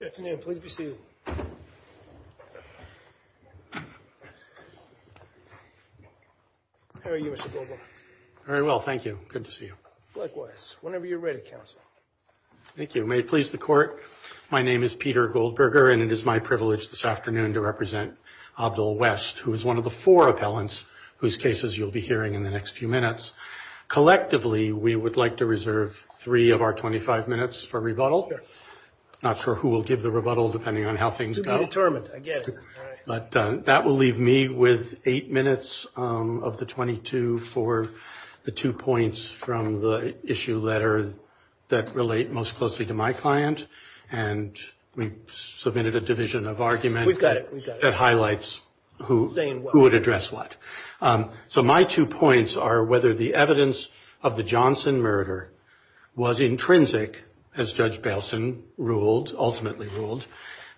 Good afternoon. Pleased to be seated. How are you, Mr. Goldberger? Very well, thank you. Good to see you. Likewise. Whenever you're ready, counsel. Thank you. May it please the court, my name is Peter Goldberger and it is my privilege this afternoon to represent Abdul West, who is one of the four appellants whose cases you'll be hearing in the next few minutes. Collectively, we would like to reserve three of our 25 minutes for rebuttal. Not sure who will give the rebuttal, depending on how things go. To be determined, I guess. That will leave me with eight minutes of the 22 for the two points from the issue letter that relate most closely to my client. And we submitted a division of argument that highlights who would address what. So my two points are whether the evidence of the Johnson murder was intrinsic, as Judge Belson ultimately ruled,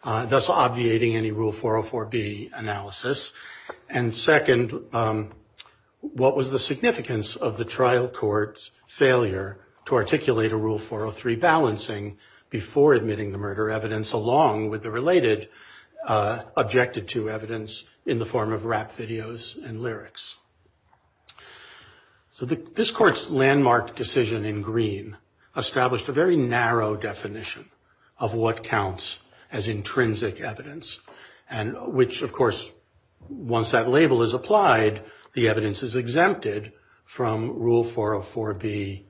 thus obviating any Rule 404B analysis. And second, what was the significance of the trial court's failure to articulate a Rule 403 balancing before admitting the murder evidence, along with the related objected to evidence in the form of rap videos and lyrics. So this court's landmark decision in green established a very narrow definition of what counts as intrinsic evidence, and which, of course, once that label is applied, the evidence is exempted from Rule 404B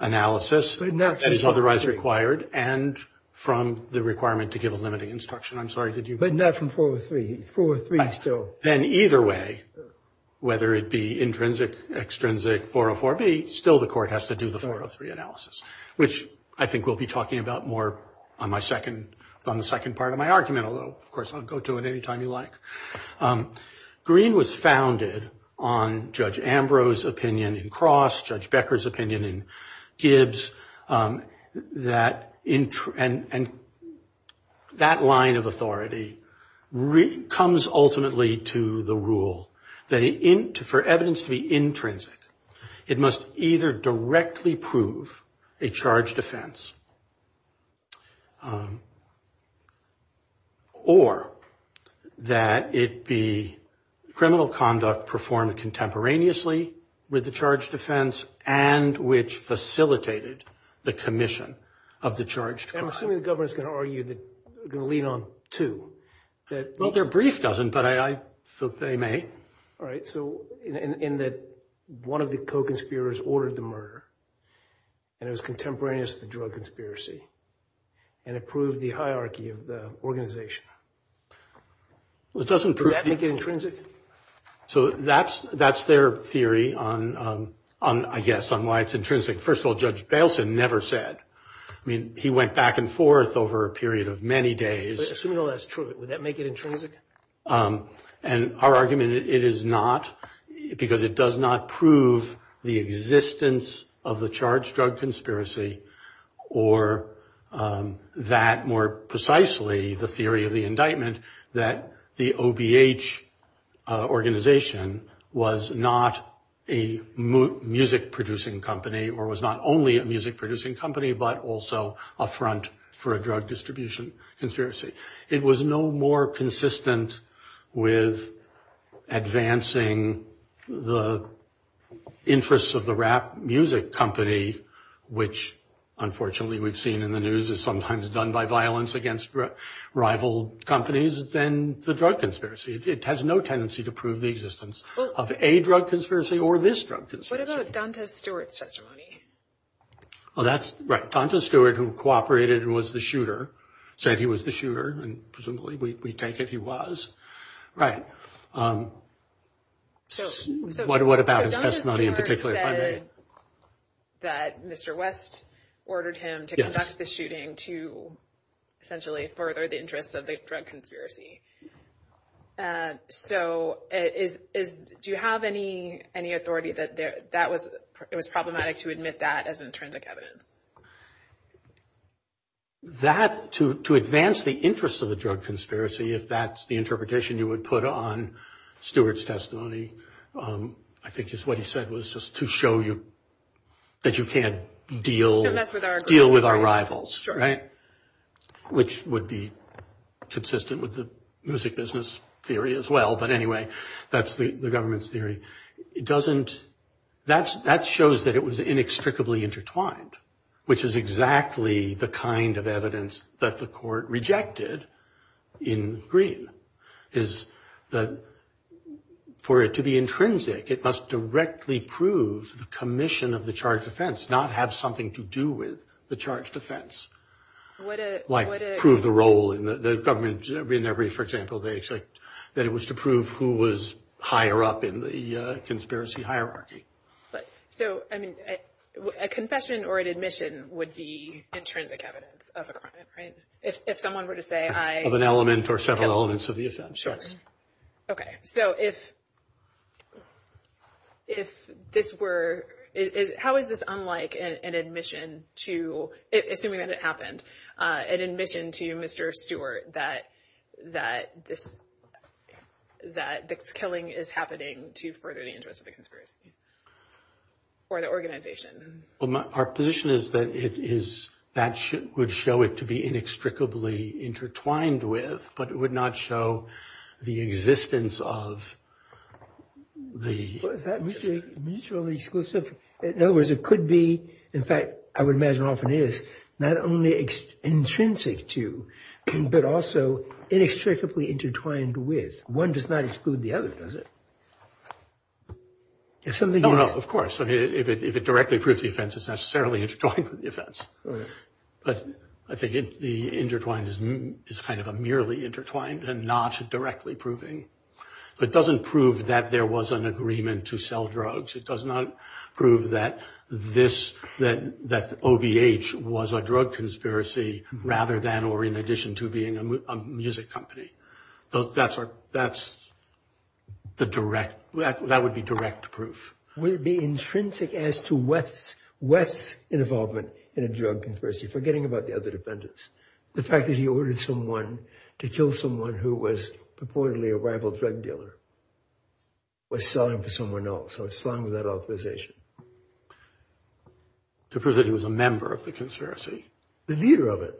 analysis that is otherwise required, and from the requirement to give a limiting instruction. I'm sorry, did you? But not from 403. 403 still. Then either way, whether it be intrinsic, extrinsic, 404B, still the court has to do the 403 analysis, which I think we'll be talking about more on the second part of my argument, although, of course, I'll go to it anytime you like. Green was founded on Judge Ambrose's opinion in Cross, Judge Becker's opinion in Gibbs, and that line of authority comes ultimately to the rule that for evidence to be intrinsic, it must either directly prove a charged offense or that it be criminal conduct performed contemporaneously with the charged offense and which facilitated the commission of the charged crime. I'm assuming the governor's going to lead on to that. Well, their brief doesn't, but I think they may. All right, so in that one of the co-conspirators ordered the murder, and it was contemporaneous to the drug conspiracy, and it proved the hierarchy of the organization. Does that make it intrinsic? So that's their theory on, I guess, on why it's intrinsic. First of all, Judge Bailson never said. I mean, he went back and forth over a period of many days. So no, that's true. Would that make it intrinsic? And our argument, it is not because it does not prove the existence of the charged drug conspiracy or that more precisely the theory of the indictment that the OBH organization was not a music producing company or was not only a music producing company, but also a front for a drug distribution conspiracy. It was no more consistent with advancing the interests of the rap music company, which unfortunately we've seen in the news is sometimes done by violence against rival companies than the drug conspiracy. It has no tendency to prove the existence of a drug conspiracy or this drug conspiracy. What about Donta Stewart's testimony? Well, that's right. Donta Stewart, who cooperated and was the shooter, said he was the shooter, and presumably we take it he was. Right. What about his testimony in particular? That Mr. West ordered him to conduct the shooting to essentially further the interests of the drug conspiracy. And so do you have any authority that it was problematic to admit that as intrinsic evidence? That to advance the interests of the drug conspiracy, if that's the interpretation you would put on Stewart's testimony, I think just what he said was just to show you that you can't deal with our rivals. Right. Which would be consistent with the music business theory as well. But anyway, that's the government's theory. It doesn't that's that shows that it was inextricably intertwined, which is exactly the kind of evidence that the court rejected in Green is that for it to be intrinsic, it must directly prove the commission of the charged offense, not have something to do with the charged offense. Like prove the role in the government, for example, that it was to prove who was higher up in the conspiracy hierarchy. So, I mean, a confession or an admission would be intrinsic evidence of it, right? If someone were to say I... Of an element or several elements of the offense. Sure. Okay. How is this unlike an admission to, assuming that it happened, an admission to Mr. Stewart that this killing is happening to further the interest of the conspiracy or the organization? Well, our position is that that would show it to be inextricably intertwined with, but it would not show the existence of the... Mutually exclusive. In other words, it could be, in fact, I would imagine often is, not only intrinsic to, but also inextricably intertwined with. One does not exclude the other, does it? If something... Oh, no, of course. I mean, if it directly proves the offense, it's necessarily intertwined with the offense. But I think the intertwined is kind of a merely intertwined and not directly proving. But it doesn't prove that there was an agreement to sell drugs. It does not prove that this, that OVH was a drug conspiracy rather than or in addition to being a music company. That's the direct... That would be direct proof. Would it be intrinsic as to West's involvement in a drug conspiracy, forgetting about the other defendants? The fact that he ordered someone to kill someone who was purportedly a rival drug dealer was selling for someone else. So it's selling without authorization. To prove that he was a member of the conspiracy. The leader of it.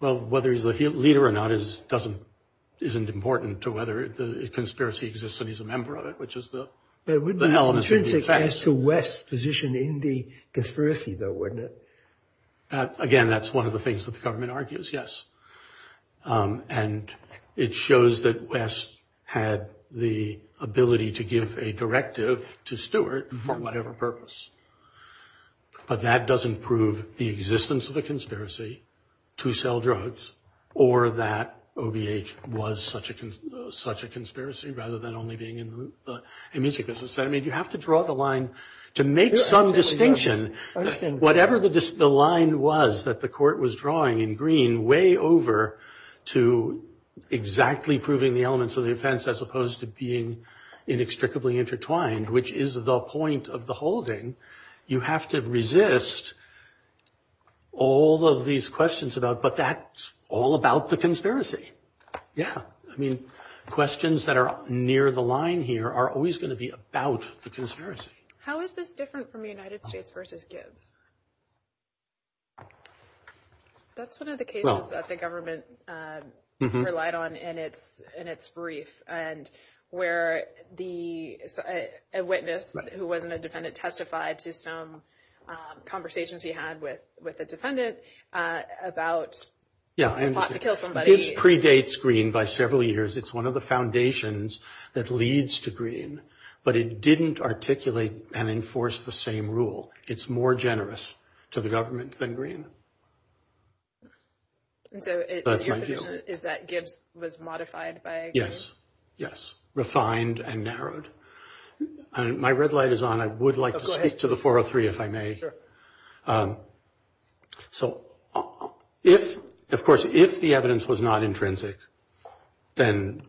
Well, whether he's the leader or not isn't important to whether the conspiracy exists and he's a member of it, which is the... But it would be intrinsic as to West's position in the conspiracy though, wouldn't it? Again, that's one of the things that the government argues, yes. And it shows that West had the ability to give a directive to Stewart for whatever purpose. But that doesn't prove the existence of the conspiracy to sell drugs or that OVH was such a conspiracy rather than only being... I mean, you have to draw the line to make some distinction. Whatever the line was that the court was drawing in green, way over to exactly proving the elements of the offense as opposed to being inextricably intertwined, which is the point of the holding. You have to resist all of these questions about... But that's all about the conspiracy. Yeah. I mean, questions that are near the line here are always going to be about the conspiracy. How is this different from United States versus Gibbs? That's one of the cases that the government relied on in its brief. And where a witness who wasn't a defendant testified to some conversations he had with a defendant about trying to kill somebody. It predates green by several years. It's one of the foundations that leads to green. But it didn't articulate and enforce the same rule. It's more generous to the government than green. Is that Gibbs was modified by... Yes, yes. Refined and narrowed. And my red light is on. I would like to speak to the 403 if I may. Sure. So, of course, if the evidence was not intrinsic, then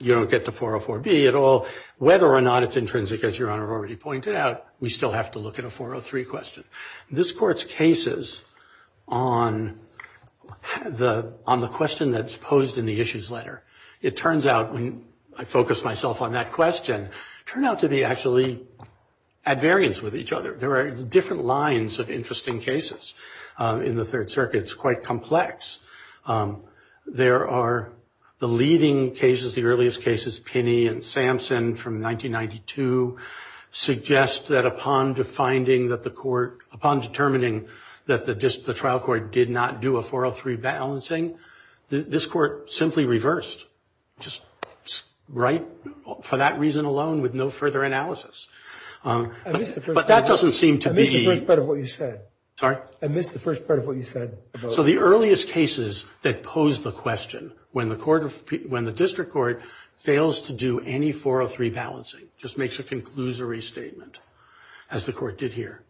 you don't get the 404B at all. Whether or not it's intrinsic, as Your Honor already pointed out, we still have to look at a 403 question. This Court's cases on the question that's posed in the issues letter, it turns out when I focus myself on that question, turn out to be actually at variance with each other. There are different lines of interesting cases in the Third Circuit. It's quite complex. There are the leading cases, the earliest cases, Pinney and Sampson from 1992, suggest that upon determining that the trial court did not do a 403 balancing, this Court simply reversed. Just right for that reason alone with no further analysis. But that doesn't seem to be... I missed the first part of what you said. Sorry? I missed the first part of what you said. So the earliest cases that pose the question, when the District Court fails to do any 403 balancing, just makes a conclusory statement, as the Court did here.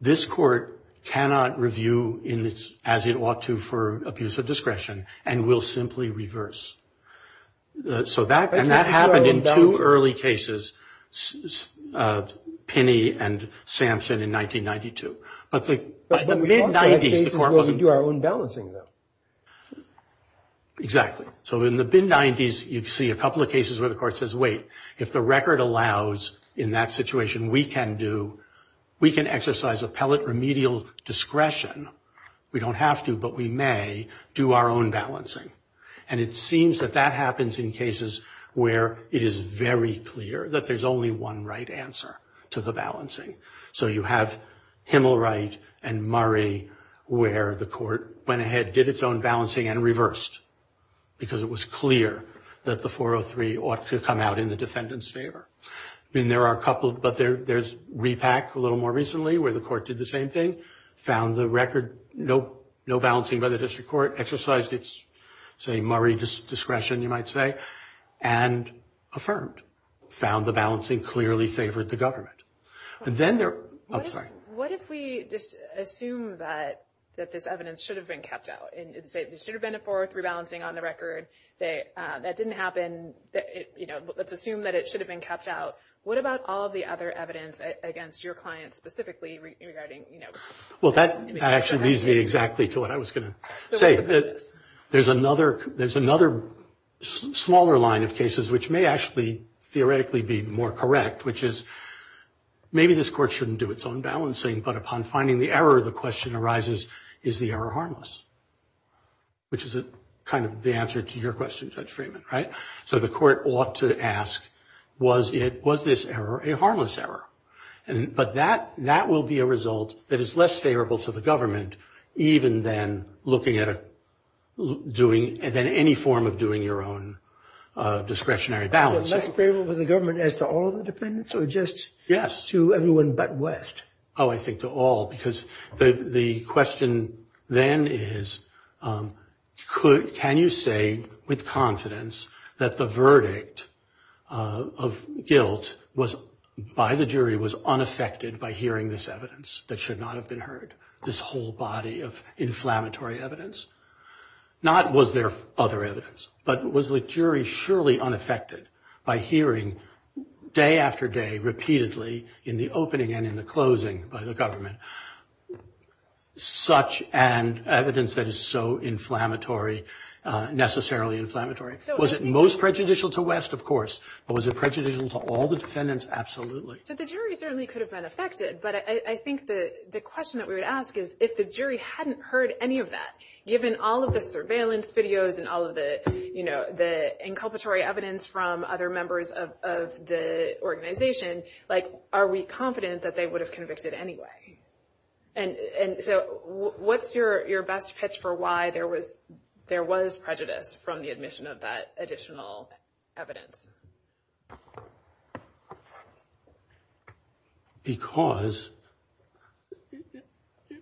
This Court cannot review as it ought to for abuse of discretion and will simply reverse. So that happened in two early cases, Pinney and Sampson in 1992. But the mid-90s, the Court was... We do our own balancing though. Exactly. So in the mid-90s, you'd see a couple of cases where the Court says, wait, if the record allows in that situation we can do, we can exercise appellate remedial discretion. We don't have to, but we may do our own balancing. And it seems that that happens in cases where it is very clear that there's only one right answer to the balancing. So you have Himmelright and Murray, where the Court went ahead, did its own balancing and reversed. Because it was clear that the 403 ought to come out in the defendant's favor. Then there are a couple... But there's Repak a little more recently, where the Court did the same thing, found the record, no balancing by the District Court, exercised its, say, Murray discretion, you might say, and affirmed, found the balancing clearly favored the government. But then there... I'm sorry. What if we just assume that this evidence should have been kept out? And it should have been a 403 balancing on the record. That didn't happen. Let's assume that it should have been kept out. What about all the other evidence against your client specifically regarding, well, that actually leads me exactly to what I was going to say. There's another smaller line of cases, which may actually theoretically be more correct, which is maybe this Court shouldn't do its own balancing, but upon finding the error, the question arises, is the error harmless? Which is kind of the answer to your question, Judge Freeman, right? So the Court ought to ask, was this error a harmless error? But that will be a result that is less favorable to the government, even than looking at doing, and then any form of doing your own discretionary balancing. Less favorable to the government as to all the defendants or just to everyone but West? Oh, I think to all, because the question then is, can you say with confidence that the verdict of guilt by the jury was unaffected by hearing this evidence that should not have been heard, this whole body of inflammatory evidence? Not was there other evidence, but was the jury surely unaffected by hearing day after day, repeatedly, in the opening and in the closing by the government, such an evidence that is so inflammatory, necessarily inflammatory? Was it most prejudicial to West? Of course. But was it prejudicial to all the defendants? Absolutely. But the jury certainly could have been affected. But I think the question that we would ask is, if the jury hadn't heard any of that, given all of the surveillance videos and all of the, you know, the inculpatory evidence from other members of the organization, like, are we confident that they would have convicted anyway? And so what's your best pitch for why there was prejudice from the admission of that additional evidence? Because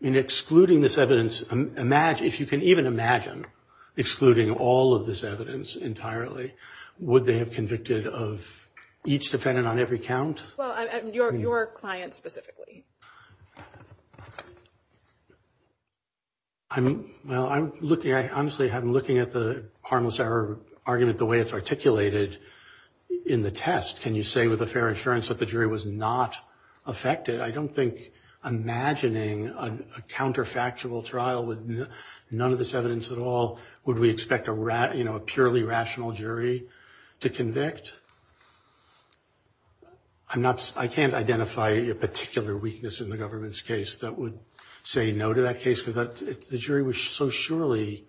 in excluding this evidence, if you can even imagine excluding all of this evidence entirely, would they have convicted of each defendant on every count? Well, your client specifically. I mean, well, I'm looking, honestly, I'm looking at the harmless error argument, the way it's articulated in the test. Can you say with a fair inference that the jury was not affected? I don't think imagining a counterfactual trial with none of this evidence at all, would we expect a purely rational jury to convict? I can't identify a particular weakness in the government's case that would say no to that case, because the jury was so surely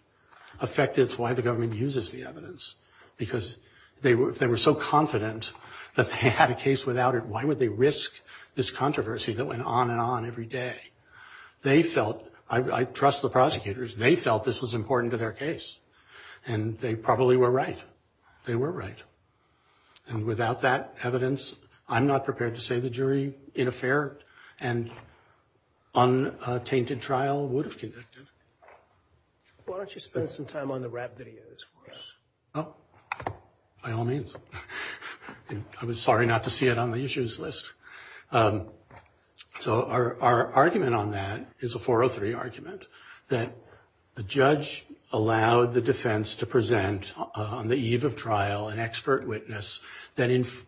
affected. That's why the government uses the evidence, because they were so confident that they had a case without it. Why would they risk this controversy that went on and on every day? They felt, I trust the prosecutors, they felt this was important to their case, and they probably were right. They were right. And without that evidence, I'm not prepared to say the jury in a fair and untainted trial would have convicted. Why don't you spend some time on the rap videos? Oh, by all means. I'm sorry not to see it on the issues list. So our argument on that is a 403 argument that the judge allowed the defense to present on the eve of trial an expert witness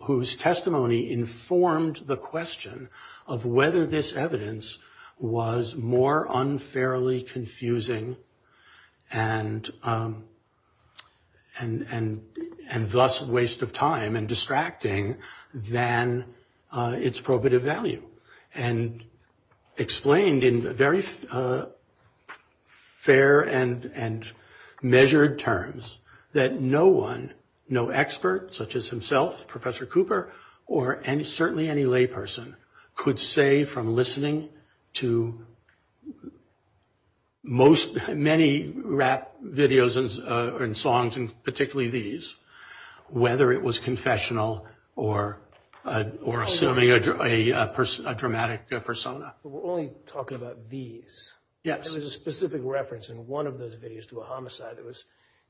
whose testimony informed the question of whether this evidence was more unfairly confusing and thus a waste of time and distracting than its probative value and explained in very fair and measured terms that no one, no expert such as himself, Professor Cooper, or certainly any layperson, could say from listening to many rap videos and songs, and particularly these, whether it was confessional or a dramatic persona. We're only talking about these. Yes. There was a specific reference in one of those videos to a homicide that was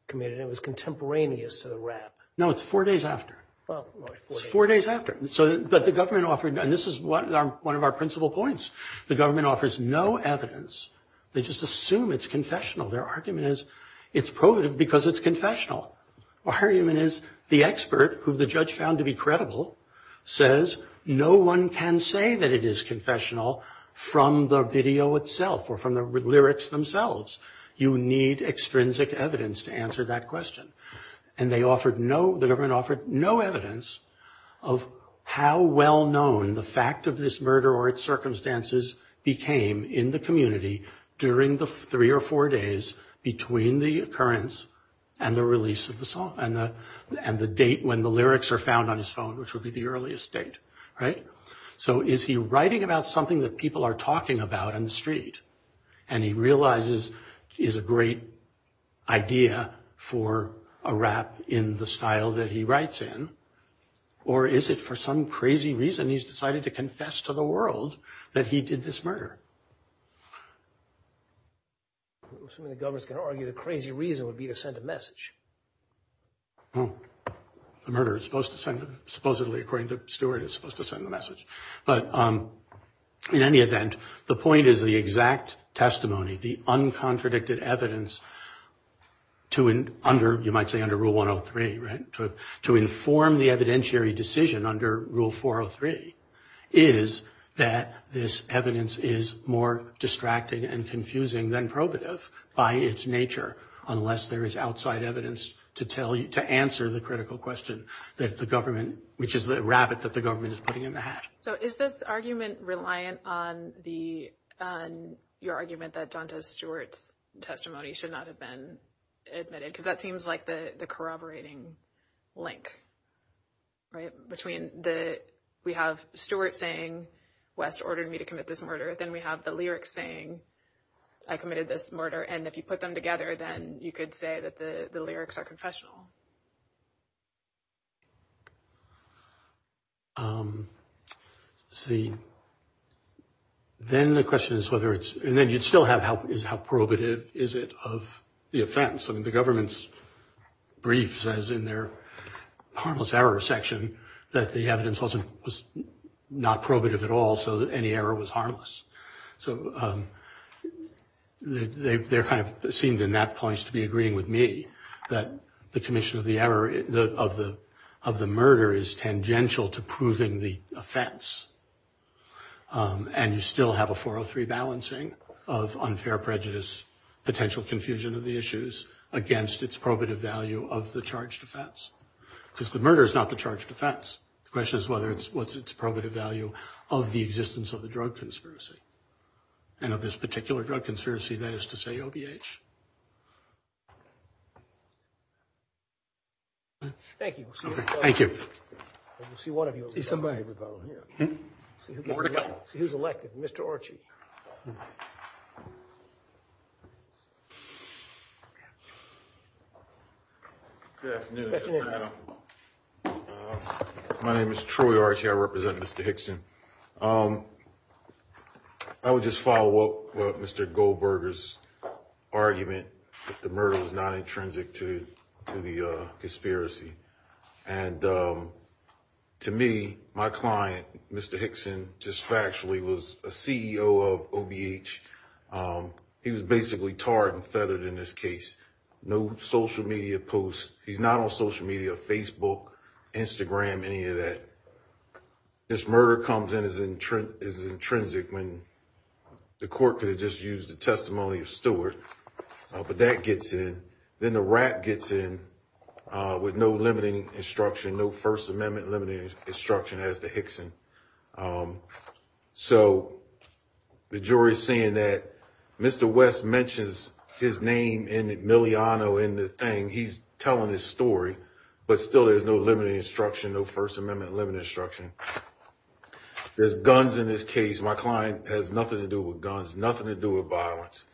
committed, and it was contemporaneous to the rap. No, it's four days after. Oh, right. Four days after. But the government offered, and this is one of our principal points, the government offers no evidence. They just assume it's confessional. Their argument is it's probative because it's confessional. Argument is the expert who the judge found to be credible says no one can say that it is confessional from the video itself or from the lyrics themselves. You need extrinsic evidence to answer that question. And they offered no, no evidence of how well known the fact of this murder or its circumstances became in the community during the three or four days between the occurrence and the release of the song and the date when the lyrics are found on his phone, which would be the earliest date, right? So is he writing about something that people are talking about on the street and he realizes is a great idea for a rap in the style that he writes in? Or is it for some crazy reason he's decided to confess to the world that he did this murder? I'm assuming the government's going to argue the crazy reason would be to send a message. Oh, the murderer is supposed to send, supposedly, according to Stewart, is supposed to send the message. But in any event, the point is the exact testimony, the uncontradicted evidence to under, you might say, under rule 103, right? To inform the evidentiary decision under rule 403 is that this evidence is more distracting and confusing than probative by its nature, unless there is outside evidence to tell you to answer the critical question that the government, which is the rabbit that the government is putting in the hat. So is this argument reliant on your argument that Donta Stewart's testimony should not have been admitted? Because that seems like the corroborating link, right? Between the, we have Stewart saying, West ordered me to commit this murder. Then we have the lyrics saying, I committed this murder. And if you put them together, then you could say that the lyrics are confessional. See, then the question is whether it's, and then you'd still have how probative is it of the offense. I mean, the government's brief says in their harmless error section that the evidence wasn't, was not probative at all. So any error was harmless. So they're kind of, it seemed in that point to be agreeing with me that the commission of the error, of the murder is tangential to proving the offense. And you still have a 403 balancing. Of unfair prejudice, potential confusion of the issues against its probative value of the charge defense. Because the murder is not the charge defense. The question is whether it's, what's its probative value of the existence of the drug conspiracy. And of this particular drug conspiracy, that is to say, OBH. Thank you. Thank you. We'll see one of you. Who's elected? Mr. Archie. Good afternoon. My name is Troy Archie. I represent Mr. Hickson. I would just follow up Mr. Goldberger's argument that the murder was not intrinsic to the conspiracy. And to me, my client, Mr. Hickson, just factually, was a CEO of OBH. He was basically tarred and feathered in this case. No social media posts. He's not on social media, Facebook, Instagram, any of that. This murder comes in as intrinsic when the court could have just used the testimony of Stewart. But that gets in. Then the rap gets in with no limiting instruction, no First Amendment limiting instruction as to Hickson. So the jury's saying that Mr. West mentions his name in Miliano in the thing. He's telling his story. But still, there's no limiting instruction, no First Amendment limiting instruction. There's guns in this case. My client has nothing to do with guns, nothing to do with violence.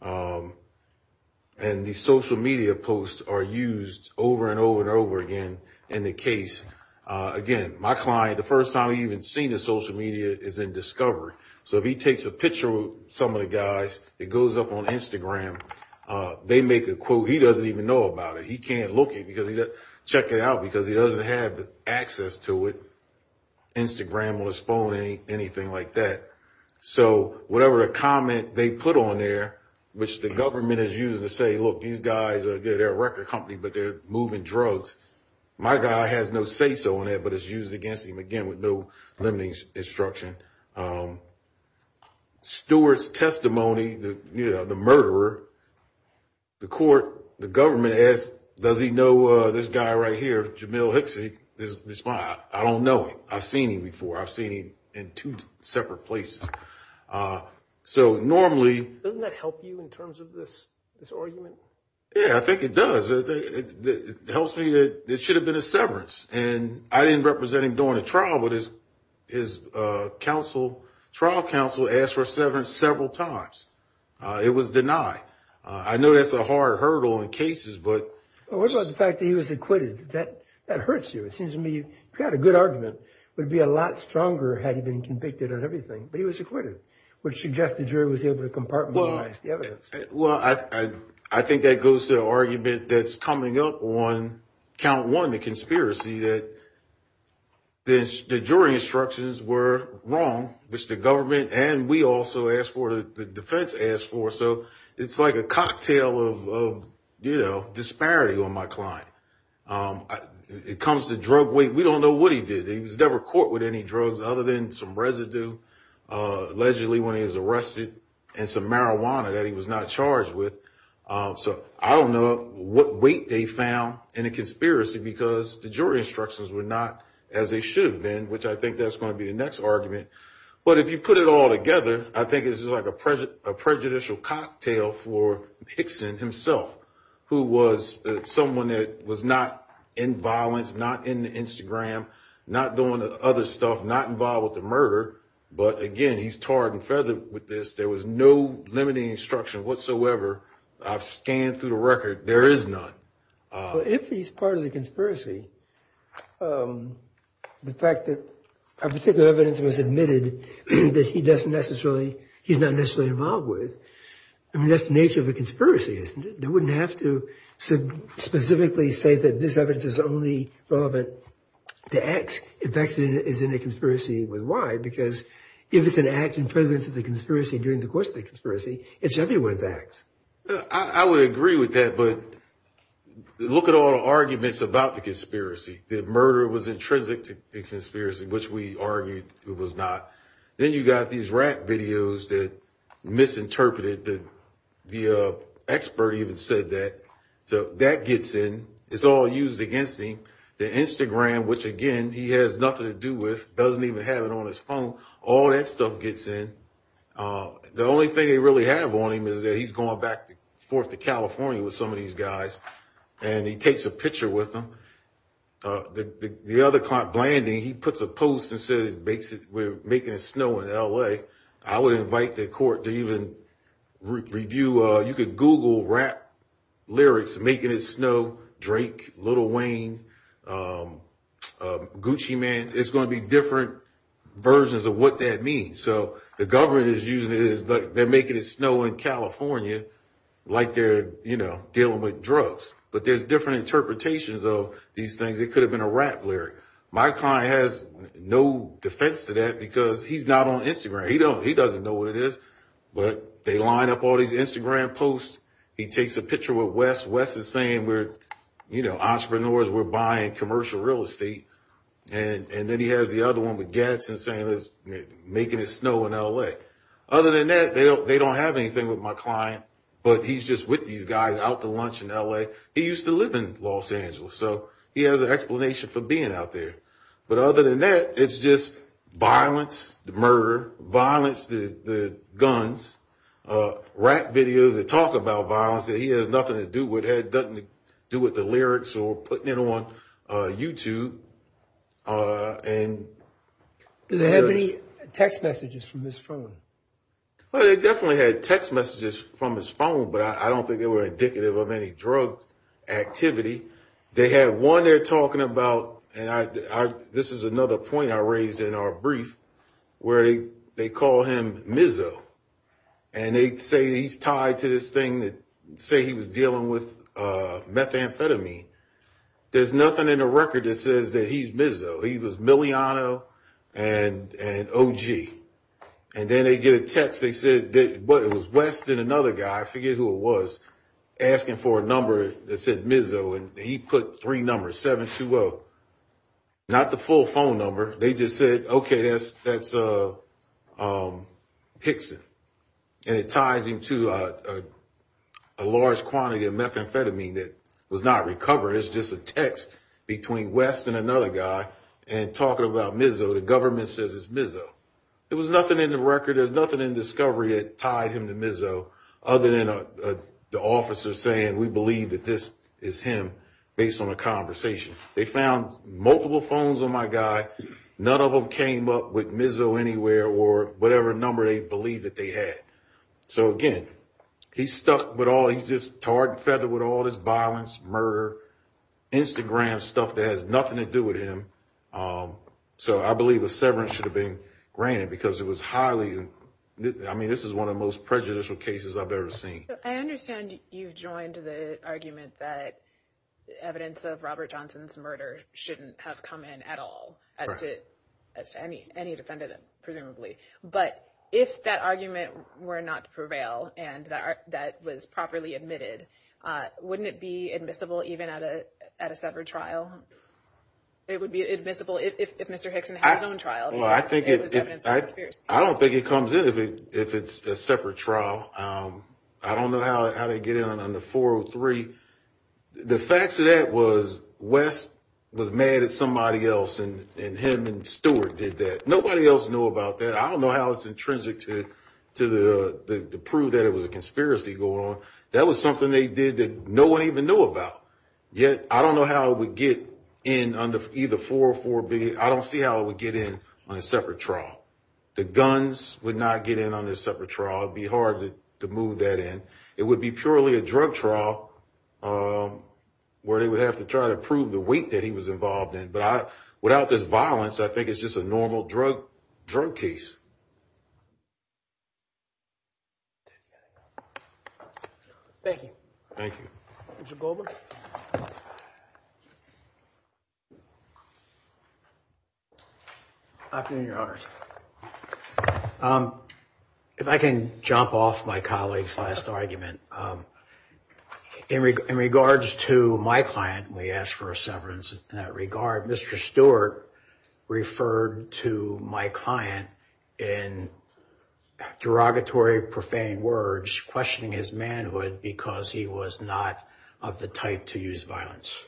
And the social media posts are used over and over and over again in the case. Again, my client, the first time he even seen the social media is in Discover. So if he takes a picture with some of the guys, it goes up on Instagram. They make a quote. He doesn't even know about it. He can't look it because he doesn't check it out because he doesn't have access to it, Instagram or his phone, anything like that. So whatever a comment they put on there, which the government is used to say, look, these guys are good. They're a record company, but they're moving drugs. My guy has no say so on that, but it's used against him. Again, with no limiting instruction. Stewart's testimony, the murderer, the court, the government asked, does he know this guy right here, Jamil Hixson? I don't know him. I've seen him before. I've seen him in two separate places. So normally- Doesn't that help you in terms of this argument? Yeah, I think it does. It helps me that it should have been a severance. And I didn't represent him during the trial, but his trial counsel asked for a severance several times. It was denied. I know that's a hard hurdle in cases, but- What about the fact that he was acquitted? That hurts you. It seems to me, if you had a good argument, it would be a lot stronger had he been convicted of everything. But he was acquitted, which suggested the jury was able to compartmentalize the evidence. Well, I think that goes to the argument that's coming up on count one, the conspiracy, that the jury instructions were wrong, which the government and we also asked for, the defense asked for. So it's like a cocktail of disparity on my client. It comes to drug weight. We don't know what he did. He was never caught with any drugs other than some residue, allegedly when he was arrested, and some marijuana that he was not charged with. So I don't know what weight they found in a conspiracy because the jury instructions were not as they should have been, which I think that's going to be the next argument. But if you put it all together, I think this is like a prejudicial cocktail for Hickson himself, who was someone that was not in violence, not in the Instagram, not doing the other stuff, not involved with the murder. But again, he's tarred and feathered with this. There was no limiting instruction whatsoever of scanning through the record. There is none. Well, if he's part of the conspiracy, the fact that a particular evidence was admitted that he doesn't necessarily, he's not necessarily involved with, I mean, that's the nature of a conspiracy, isn't it? They wouldn't have to specifically say that this evidence is only relevant to X, if X is in a conspiracy with Y, because if it's an act in presence of the conspiracy during the course of the conspiracy, it's everyone's X. I would agree with that. But look at all the arguments about the conspiracy. The murder was intrinsic to the conspiracy, which we argued it was not. Then you got these rap videos that misinterpreted that the expert even said that. So that gets in. It's all used against him. The Instagram, which again, he has nothing to do with, doesn't even have it on his phone. All that stuff gets in. The only thing they really have on him is that he's going back and forth to California with some of these guys, and he takes a picture with them. The other client, Blanding, he puts a post and says we're making it snow in LA. I would invite the court to even review, you could Google rap lyrics, making it snow, Drake, Lil Wayne, Gucci Mane. It's gonna be different versions of what that means. The government is using it, but they're making it snow in California like they're dealing with drugs. But there's different interpretations of these things. It could have been a rap lyric. My client has no defense to that because he's not on Instagram. He doesn't know what it is, but they line up all these Instagram posts. He takes a picture with West. West is saying we're entrepreneurs, we're buying commercial real estate. Then he has the other one with Gadsden making it snow in LA. Other than that, they don't have anything with my client, but he's just with these guys out to lunch in LA. He used to live in Los Angeles, so he has an explanation for being out there. But other than that, it's just violence, the murder, violence, the guns, rap videos that talk about violence that he has nothing to do with, that doesn't do with the lyrics or putting it on YouTube. Do they have any text messages from his phone? Well, they definitely had text messages from his phone, but I don't think they were indicative of any drug activity. They have one they're talking about, and this is another point I raised in our brief, where they call him Mizzo. They say he's tied to this thing that say he was dealing with methamphetamine. There's nothing in the record that says that he's Mizzo. He was Miliano and OG, and then they get a text. They said it was Weston, another guy, I forget who it was, asking for a number that said Mizzo, and he put three numbers, 720. Not the full phone number. They just said, okay, that's Hickson, and it ties into a large quantity of methamphetamine that was not recovered. It's just a text between Weston, another guy, and talking about Mizzo. The government says it's Mizzo. There was nothing in the record. There's nothing in discovery that tied him to Mizzo other than the officer saying, we believe that this is him based on a conversation. They found multiple phones on my guy. None of them came up with Mizzo anywhere or whatever number they believe that they had. So again, he's stuck with all, he's just tarred and feathered with all this violence, murder, Instagram stuff that has nothing to do with him. So I believe a severance should have been granted because it was highly, I mean, this is one of the most prejudicial cases I've ever seen. So I understand you've joined the argument that evidence of Robert Johnson's murder shouldn't have come in at all as to any defendant, presumably, but if that argument were not to prevail and that was properly admitted, wouldn't it be admissible even at a separate trial? It would be admissible if Mr. Hickson had his own trial. Well, I don't think it comes in if it's a separate trial. I don't know how they get in on the 403. The facts of that was Wes was mad at somebody else and him and Stuart did that. Nobody else knew about that. I don't know how it's intrinsic to the proof that it was a conspiracy going on. That was something they did that no one even knew about. Yet, I don't know how it would get in under either 404B. I don't see how it would get in on a separate trial. The guns would not get in on this separate trial. It'd be hard to move that in. It would be purely a drug trial where they would have to try to prove the weight that he was involved in. But without this violence, I think it's just a normal drug case. Thank you. Thank you. Mr. Goldberg. Afternoon, Your Honor. If I can jump off my colleague's last argument. In regards to my client, we asked for a severance in that regard. Mr. Stuart referred to my client in derogatory, profane words questioning his manhood because he was not of the type to use violence.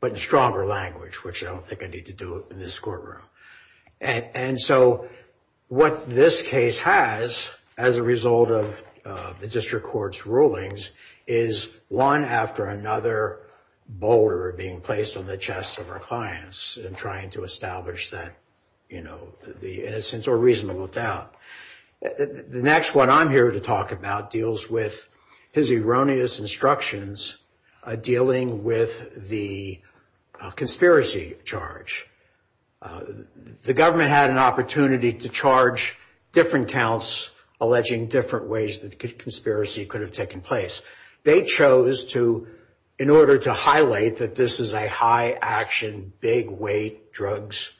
But in stronger language, which I don't think I need to do in this courtroom. And so what this case has as a result of the district court's rulings is one after another boulder being placed on the chest of our clients and trying to establish that, you know, the innocence or reasonable doubt. The next one I'm here to talk about deals with his erroneous instructions dealing with the conspiracy charge. The government had an opportunity to charge different counts alleging different ways that the conspiracy could have taken place. They chose to, in order to highlight that this is a high action, big weight drugs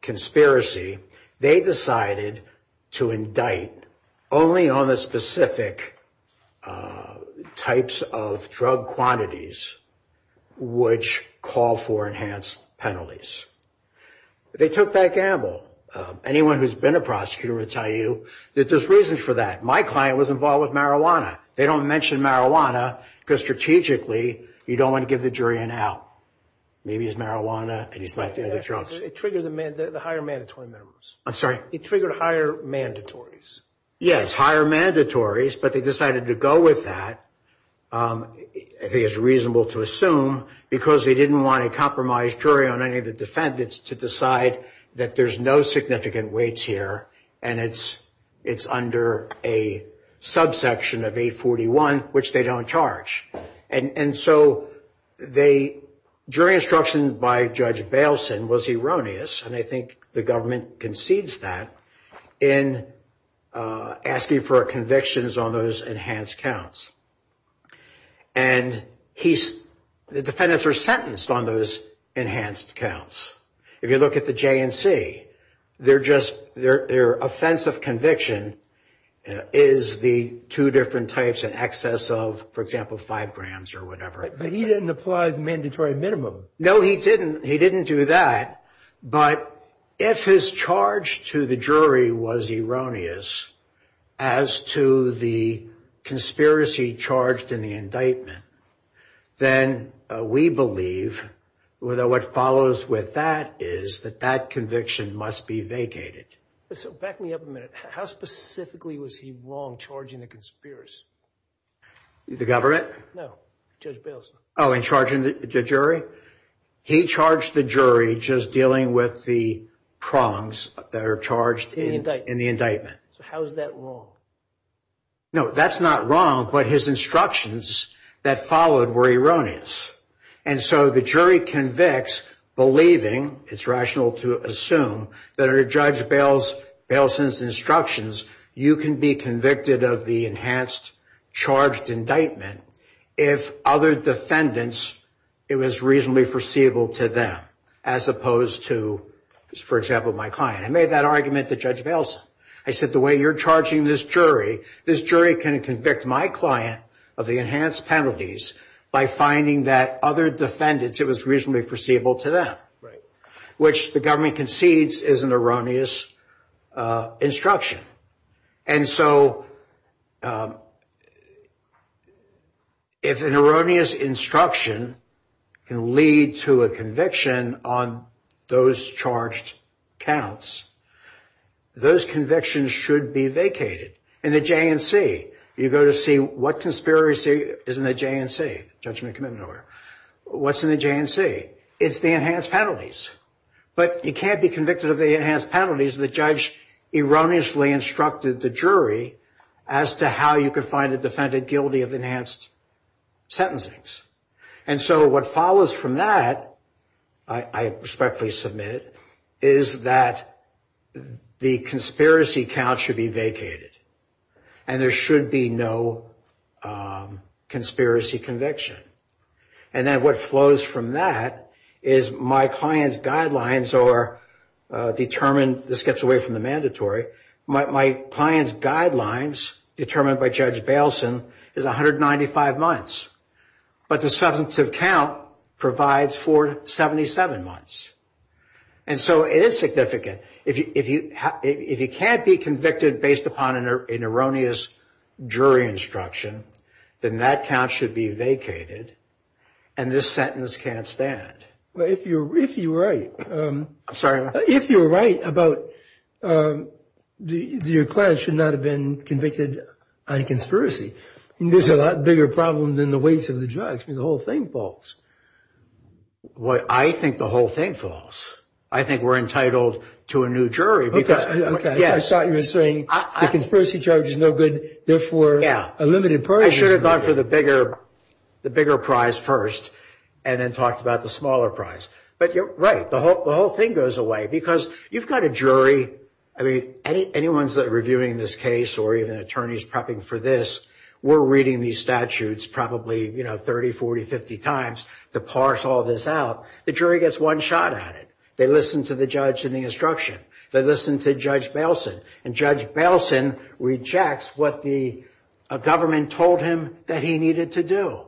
conspiracy, they decided to indict only on the specific types of drug quantities which call for enhanced penalties. They took that gamble. Anyone who's been a prosecutor would tell you that there's reasons for that. My client was involved with marijuana. They don't mention marijuana because strategically you don't want to give the jury an out. Maybe it's marijuana and he's back to the drugs. It triggered the higher mandatory members. I'm sorry? It triggered higher mandatories. Yes, higher mandatories, but they decided to go with that. I think it's reasonable to assume because they didn't want a compromised jury on any of the defendants to decide that there's no significant weights here and it's under a subsection of 841 which they don't charge. And so they, jury instruction by Judge Bailson was erroneous and I think the government concedes that in asking for convictions on those enhanced counts. And the defendants are sentenced on those enhanced counts. If you look at the JMC, they're offensive conviction is the two different types in excess of, for example, five grams or whatever. But he didn't apply mandatory minimum. No, he didn't. He didn't do that. But if his charge to the jury was erroneous as to the conspiracy charged in the indictment, then we believe what follows with that is that that conviction must be vacated. So back me up a minute. How specifically was he wrong charging the conspiracy? The government? No, Judge Bailson. Oh, in charging the jury? He charged the jury just dealing with the prongs that are charged in the indictment. How is that wrong? No, that's not wrong. But his instructions that followed were erroneous. And so the jury convicts believing it's rational to assume that our Judge Bailson's instructions, you can be convicted of the enhanced charged indictment if other defendants, it was reasonably foreseeable to them as opposed to, for example, my client. I made that argument to Judge Bailson. I said, the way you're charging this jury, this jury can convict my client of the enhanced penalties by finding that other defendants, it was reasonably foreseeable to them. Right. Which the government concedes is an erroneous instruction. And so if an erroneous instruction can lead to a conviction on those charged counts, those convictions should be vacated. In the JNC, you go to see what conspiracy is in the JNC, Judgment Commitment Order. What's in the JNC? It's the enhanced penalties. But you can't be convicted of the enhanced penalties the judge erroneously instructed the jury as to how you could find a defendant guilty of enhanced sentencings. And so what follows from that, I respectfully submit, is that the conspiracy count should be vacated and there should be no conspiracy conviction. And then what flows from that is my client's guidelines or determined, this gets away from the mandatory, my client's guidelines determined by Judge Bailson is 195 months. But the substantive count provides for 77 months. And so it is significant. If you can't be convicted based upon an erroneous jury instruction, then that count should be vacated and this sentence can't stand. But if you're right. I'm sorry? If you're right about your client should not have been convicted on conspiracy. There's a lot bigger problem than the weights of the judge. I mean, the whole thing falls. Well, I think the whole thing falls. I think we're entitled to a new jury. Okay, okay. I thought you were saying the conspiracy charge is no good. Therefore, a limited party. I should have gone for the bigger prize first and then talked about the smaller prize. But you're right. The whole thing goes away because you've got a jury. I mean, anyone's reviewing this case or even attorneys prepping for this. We're reading these statutes probably 30, 40, 50 times to parse all this out. The jury gets one shot at it. They listen to the judge and the instruction. They listen to Judge Baleson. And Judge Baleson rejects what the government told him that he needed to do.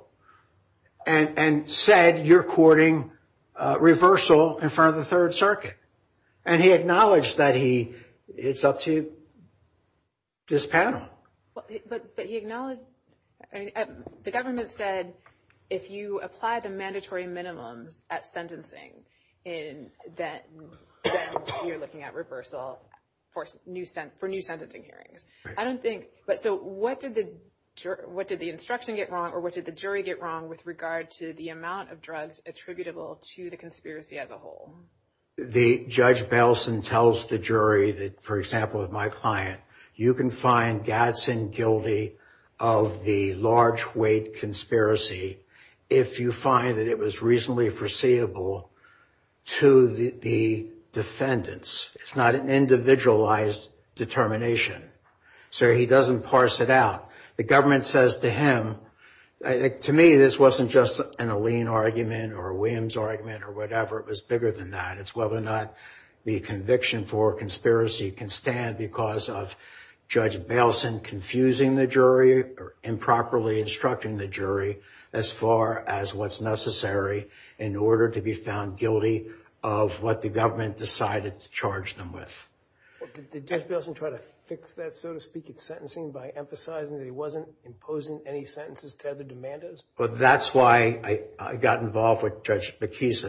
And said, you're courting reversal in front of the Third Circuit. And he acknowledged that it's up to this panel. But he acknowledged... The government said, if you apply the mandatory minimum at sentencing, then you're looking at reversal for new sentencing hearings. I don't think... But so what did the instruction get wrong or what did the jury get wrong with regard to the amount of drugs attributable to the conspiracy as a whole? The Judge Baleson tells the jury that, for example, with my client, you can find Gadsden guilty of the large weight conspiracy if you find that it was reasonably foreseeable to the defendants. It's not an individualized determination. So he doesn't parse it out. The government says to him, to me, this wasn't just an Alene argument or a Williams argument or whatever. It was bigger than that. It's whether or not the conviction for conspiracy can stand because of Judge Baleson confusing the jury or improperly instructing the jury as far as what's necessary in order to be found guilty of what the government decided to charge them with. Did Judge Baleson try to fix that, so to speak, at sentencing by emphasizing that he wasn't imposing any sentences to other demanders? Well, that's why I got involved with Judge McKees.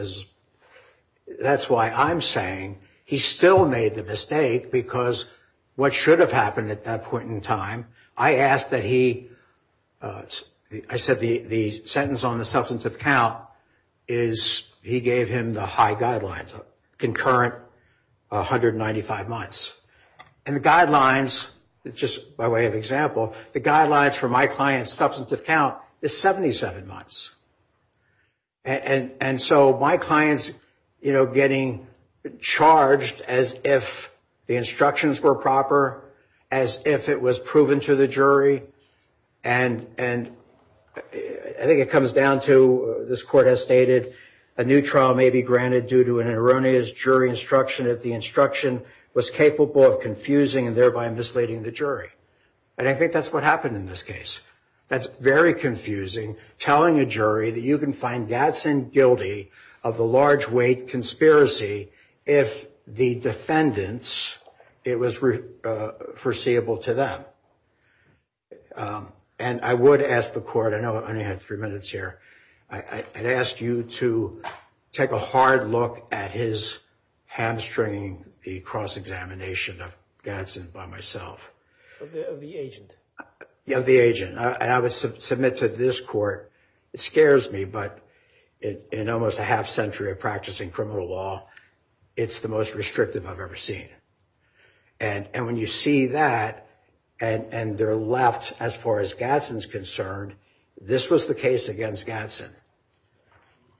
That's why I'm saying he still made the mistake because what should have happened at that point in time, I asked that he, I said the sentence on the substantive count is he gave him the high guidelines, concurrent 195 months. And the guidelines, just by way of example, the guidelines for my client's substantive count is 77 months. And so my client's getting charged as if the instructions were proper, as if it was proven to the jury. And I think it comes down to this court has stated a new trial may be granted due to an erroneous jury instruction if the instruction was capable of confusing and thereby misleading the jury. And I think that's what happened in this case. That's very confusing, telling a jury that you can find Gadsden guilty of the large weight conspiracy if the defendants, it was foreseeable to them. And I would ask the court, I know I only have three minutes here. I'd ask you to take a hard look at his hamstring, the cross-examination of Gadsden by myself. Of the agent. Yeah, the agent. I would submit to this court, it scares me, but in almost a half century of practicing criminal law, it's the most restrictive I've ever seen. And when you see that and they're left as far as Gadsden's concerned, this was the case against Gadsden.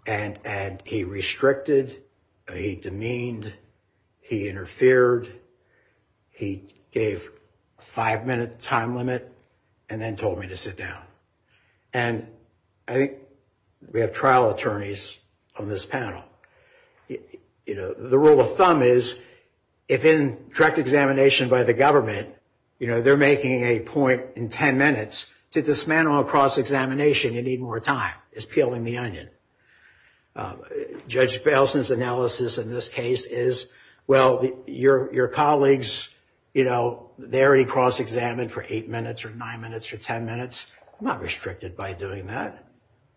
And he restricted, he demeaned, he interfered, he gave a five minute time limit and then told me to sit down. And I think we have trial attorneys on this panel. The rule of thumb is, if in direct examination by the government, they're making a point in 10 minutes, to dismantle a cross-examination, you need more time. It's peeling the onion. Judge Baleson's analysis in this case is, well, your colleagues, they already cross-examined for eight minutes or nine minutes or 10 minutes. I'm not restricted by doing that.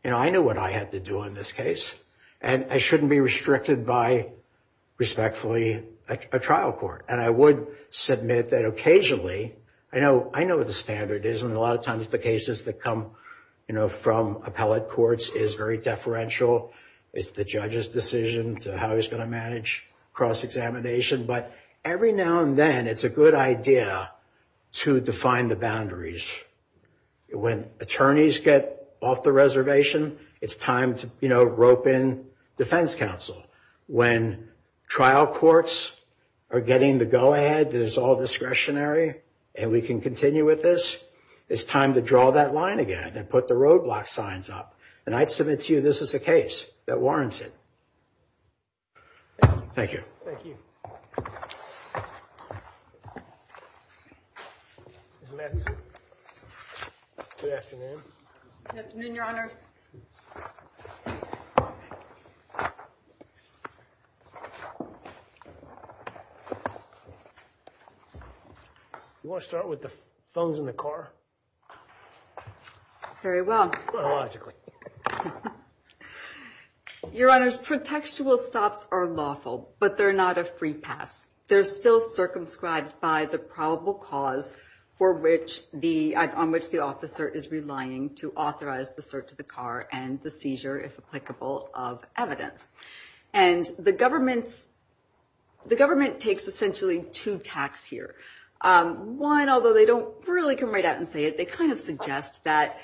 I know what I have to do in this case. And I shouldn't be restricted by respectfully a trial court. And I would submit that occasionally, I know what the standard is. And a lot of times the cases that come from appellate courts is very deferential. It's the judge's decision to how he's going to manage cross-examination. But every now and then, it's a good idea to define the boundaries. When attorneys get off the reservation, it's time to, you know, rope in defense counsel. When trial courts are getting the go-ahead that is all discretionary, and we can continue with this, it's time to draw that line again and put the roadblock signs up. And I'd submit to you, this is a case that warrants it. Thank you. Thank you. Good afternoon. Good afternoon, Your Honor. You want to start with the phones in the car? Very well. Your Honor's protectual stops are lawful, but they're not a free pass. They're still circumscribed by the probable cause on which the officer is relying to authorize the search of the car and the seizure, if applicable, of evidence. And the government takes, essentially, two tacks here. One, although they don't really come right out and say it, they kind of suggest that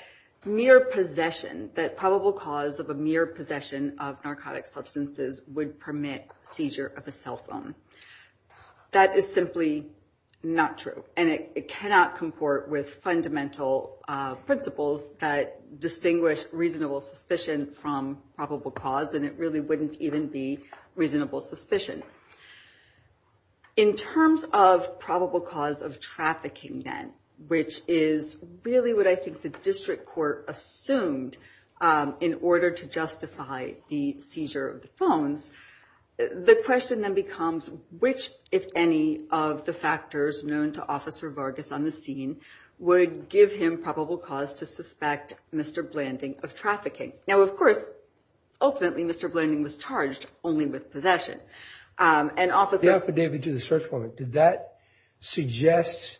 mere possession, that probable cause of a mere possession of narcotic substances would permit seizure of a cell phone. That is simply not true. And it cannot comport with fundamental principles that distinguish reasonable suspicion from probable cause. And it really wouldn't even be reasonable suspicion. In terms of probable cause of trafficking, then, which is really what I think the district court assumed in order to justify the seizure of the phone, the question then becomes, which, if any, of the factors known to Officer Vargas on the scene would give him probable cause to suspect Mr. Blanding of trafficking? Now, of course, ultimately, Mr. Blanding was charged only with possession. The affidavit to the search warrant, did that suggest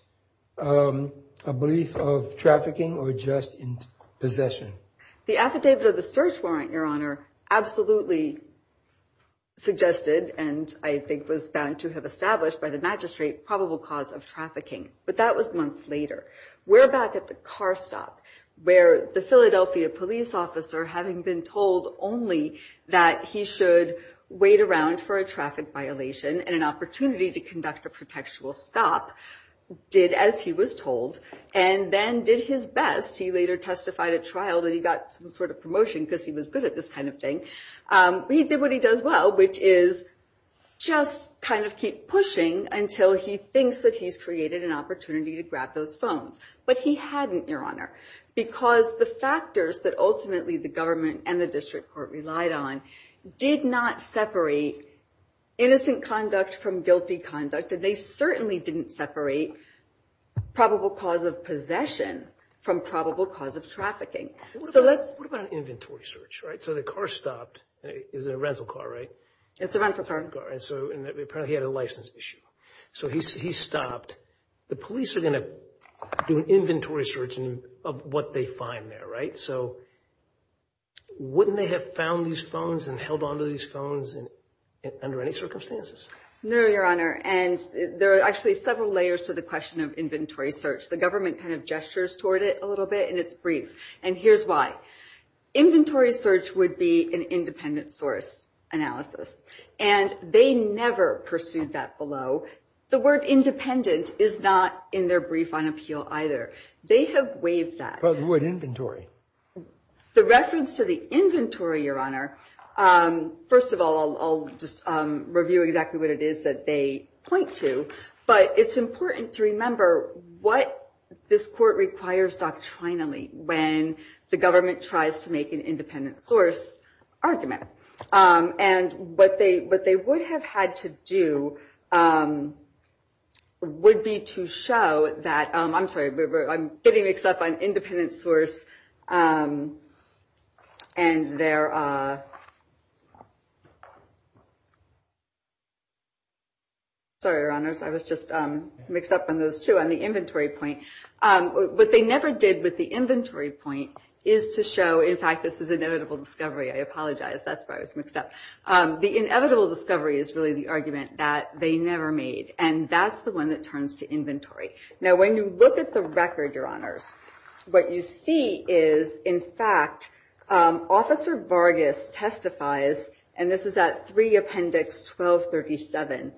a belief of trafficking or just in possession? The affidavit to the search warrant, Your Honor, absolutely suggested and I think was found to have established by the magistrate, probable cause of trafficking. But that was months later. We're back at the car stop where the Philadelphia police officer, having been told only that he should wait around for a traffic violation and an opportunity to conduct a protectual stop, did as he was told and then did his best. He later testified at trial that he got some sort of promotion because he was good at this kind of thing. He did what he does well, which is just kind of keep pushing until he thinks that he's created an opportunity to grab those phones. But he hadn't, Your Honor, because the factors that ultimately the government and the district court relied on did not separate innocent conduct from guilty conduct and they certainly didn't separate probable cause of possession from probable cause of trafficking. What about an inventory search, right? So the car stopped. It was a rental car, right? It's a rental car. So apparently he had a license issue. So he stopped. The police are going to do an inventory search of what they find there, right? So wouldn't they have found these phones and held onto these phones under any circumstances? No, Your Honor. And there are actually several layers to the question of inventory search. The government kind of gestures toward it a little bit and it's brief. And here's why. Inventory search would be an independent source analysis and they never pursued that below. The word independent is not in their brief on appeal either. They have waived that. But what inventory? The reference to the inventory, Your Honor, first of all, I'll just review exactly what it is that they point to. But it's important to remember what this court requires doctrinally when the government tries to make an independent source argument. And what they would have had to do would be to show that... I'm sorry, I'm getting mixed up on independent source and their... Sorry, Your Honor. I was just mixed up on those two on the inventory point. What they never did with the inventory point is to show... In fact, this is inevitable discovery. I apologize. That's why I was mixed up. The inevitable discovery is really the argument that they never made. And that's the one that turns to inventory. Now, when you look at the record, Your Honor, what you see is, in fact, Officer Vargas testifies, and this is at 3 Appendix 1237,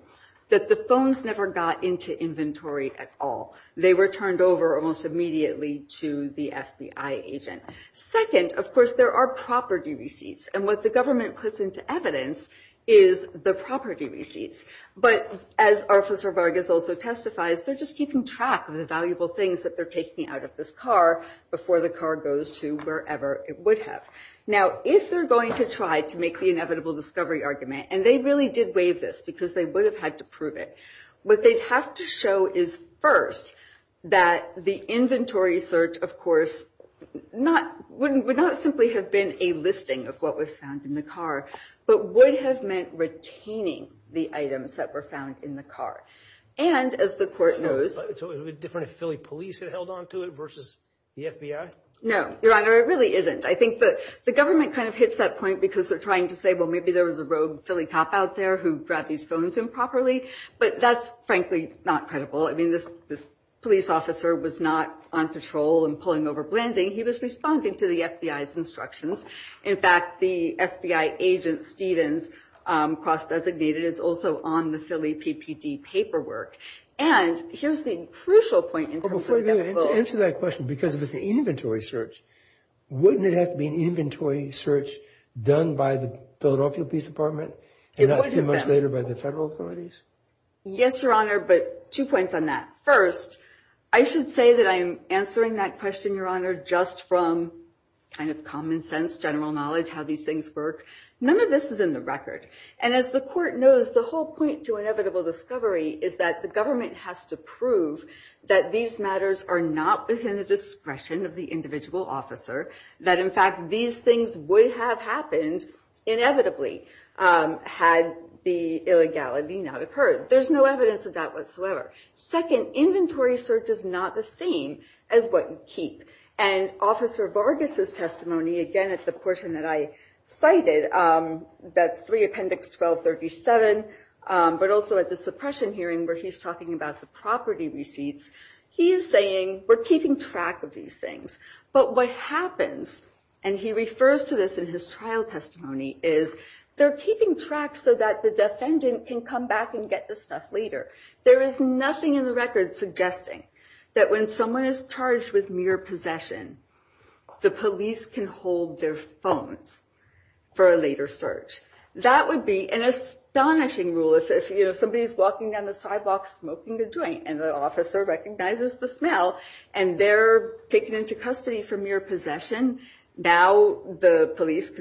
that the phones never got into inventory at all. They were turned over almost immediately to the FBI agent. Second, of course, there are property receipts. And what the government puts into evidence is the property receipts. But as Officer Vargas also testifies, they're just keeping track of the valuable things that they're taking out of this car before the car goes to wherever it would have. Now, if they're going to try to make the inevitable discovery argument, and they really did waive this because they would have had to prove it, what they'd have to show is, first, that the inventory search, of course, would not simply have been a listing of what was found in the car, but would have meant retaining the items that were found in the car. And, as the court knows... So it would be different if Philly police had held on to it versus the FBI? No, Your Honor, it really isn't. I think that the government kind of hits that point because they're trying to say, well, maybe there was a rogue Philly cop out there who grabbed these phones improperly. But that's, frankly, not credible. This police officer was not on patrol and pulling over blending. He was responding to the FBI's instructions. In fact, the FBI agent, Stevens, cross-designated, is also on the Philly PPD paperwork. And here's the crucial point... Well, before you answer that question, because of the inventory search, wouldn't it have to be an inventory search done by the Philadelphia Police Department, and not two months later by the federal authorities? Yes, Your Honor, but two points on that. First, I should say that I'm answering that question, Your Honor, just from kind of common sense, general knowledge, how these things work. None of this is in the record. And as the court knows, the whole point to inevitable discovery is that the government has to prove that these matters are not within the discretion of the individual officer. That, in fact, these things would have happened inevitably had the illegality not occurred. There's no evidence of that whatsoever. Second, inventory search is not the same as what you keep. And Officer Vargas' testimony, again, it's the portion that I cited, that's 3 Appendix 1237, but also at the suppression hearing where he's talking about the property receipts, he's saying, we're keeping track of these things. But what happens, and he refers to this in his trial testimony, is they're keeping track so that the defendant can come back and get the stuff later. There is nothing in the record suggesting that when someone is charged with mere possession, the police can hold their phones for a later search. That would be an astonishing rule if somebody's walking down the sidewalk smoking a joint and the officer recognizes the smell and they're taken into custody for mere possession. Of course,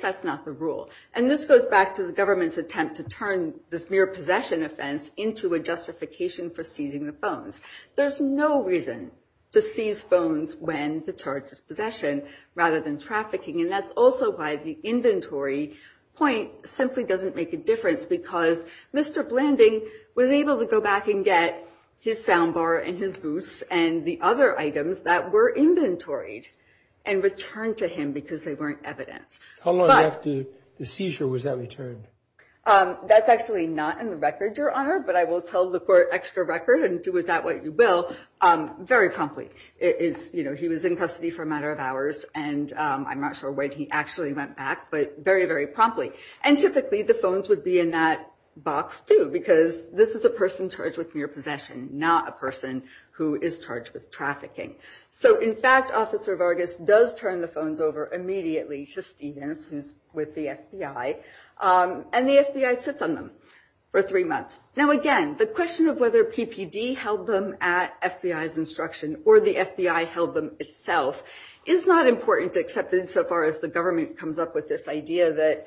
that's not the rule. And this goes back to the government's attempt to turn this mere possession offense into a justification for seizing the phones. There's no reason to seize phones when the charge is possession rather than trafficking. And that's also why the inventory point simply doesn't make a difference because Mr. Blanding was able to go back and get his soundbar and his boots and the other items that were inventoried and returned to him because they weren't evident. How long after the seizure was that returned? That's actually not in the record, Your Honor, but I will tell the court extra record and see if that's what you will. Very promptly. He was in custody for a matter of hours and I'm not sure when he actually went back, but very, very promptly. And typically, the phones would be in that box too because this is a person charged with mere possession, not a person who is charged with trafficking. So in fact, Officer Vargas does turn the phones over immediately to Stevens, who's with the FBI. And the FBI sits on them for three months. Now, again, the question of whether PPD held them at FBI's instruction or the FBI held them itself is not important, except insofar as the government comes up with this idea that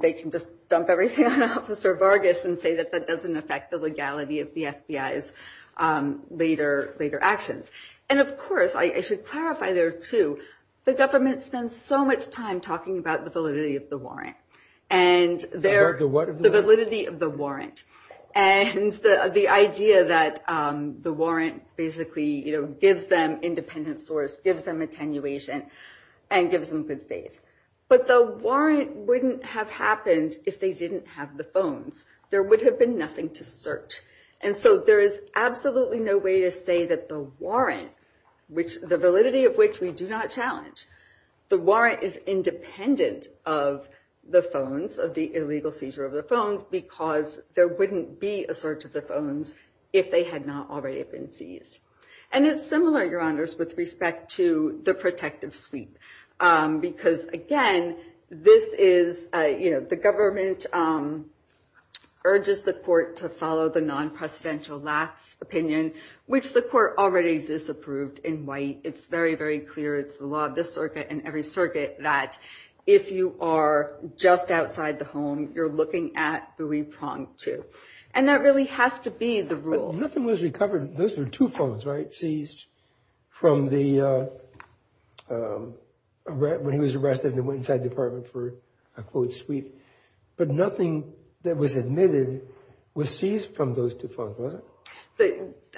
they can just dump everything on Officer Vargas and say that that doesn't affect the legality of the FBI's later actions. And of course, I should clarify there too, the government spends so much time talking about the validity of the warrant. And the validity of the warrant and the idea that the warrant basically gives them independent source, gives them attenuation, and gives them good faith. But the warrant wouldn't have happened if they didn't have the phone. There would have been nothing to search. And so there is absolutely no way to say that the warrant, which the validity of which we do not challenge, the warrant is independent of the phones, of the illegal seizure of the phones, because there wouldn't be a search of the phones if they had not already been seized. And it's similar, Your Honors, with respect to the protective suite. Because again, this is, the government urges the court to follow the non-presidential last opinion, which the court already disapproved in white. It's very, very clear. It's the law of this circuit and every circuit that if you are just outside the home, you're looking at the repronged two. And that really has to be the rule. Nothing was recovered. Those were two phones, right? Seized from the, when he was arrested and went inside the department for a quote suite. But nothing that was admitted was seized from those two phones, was it?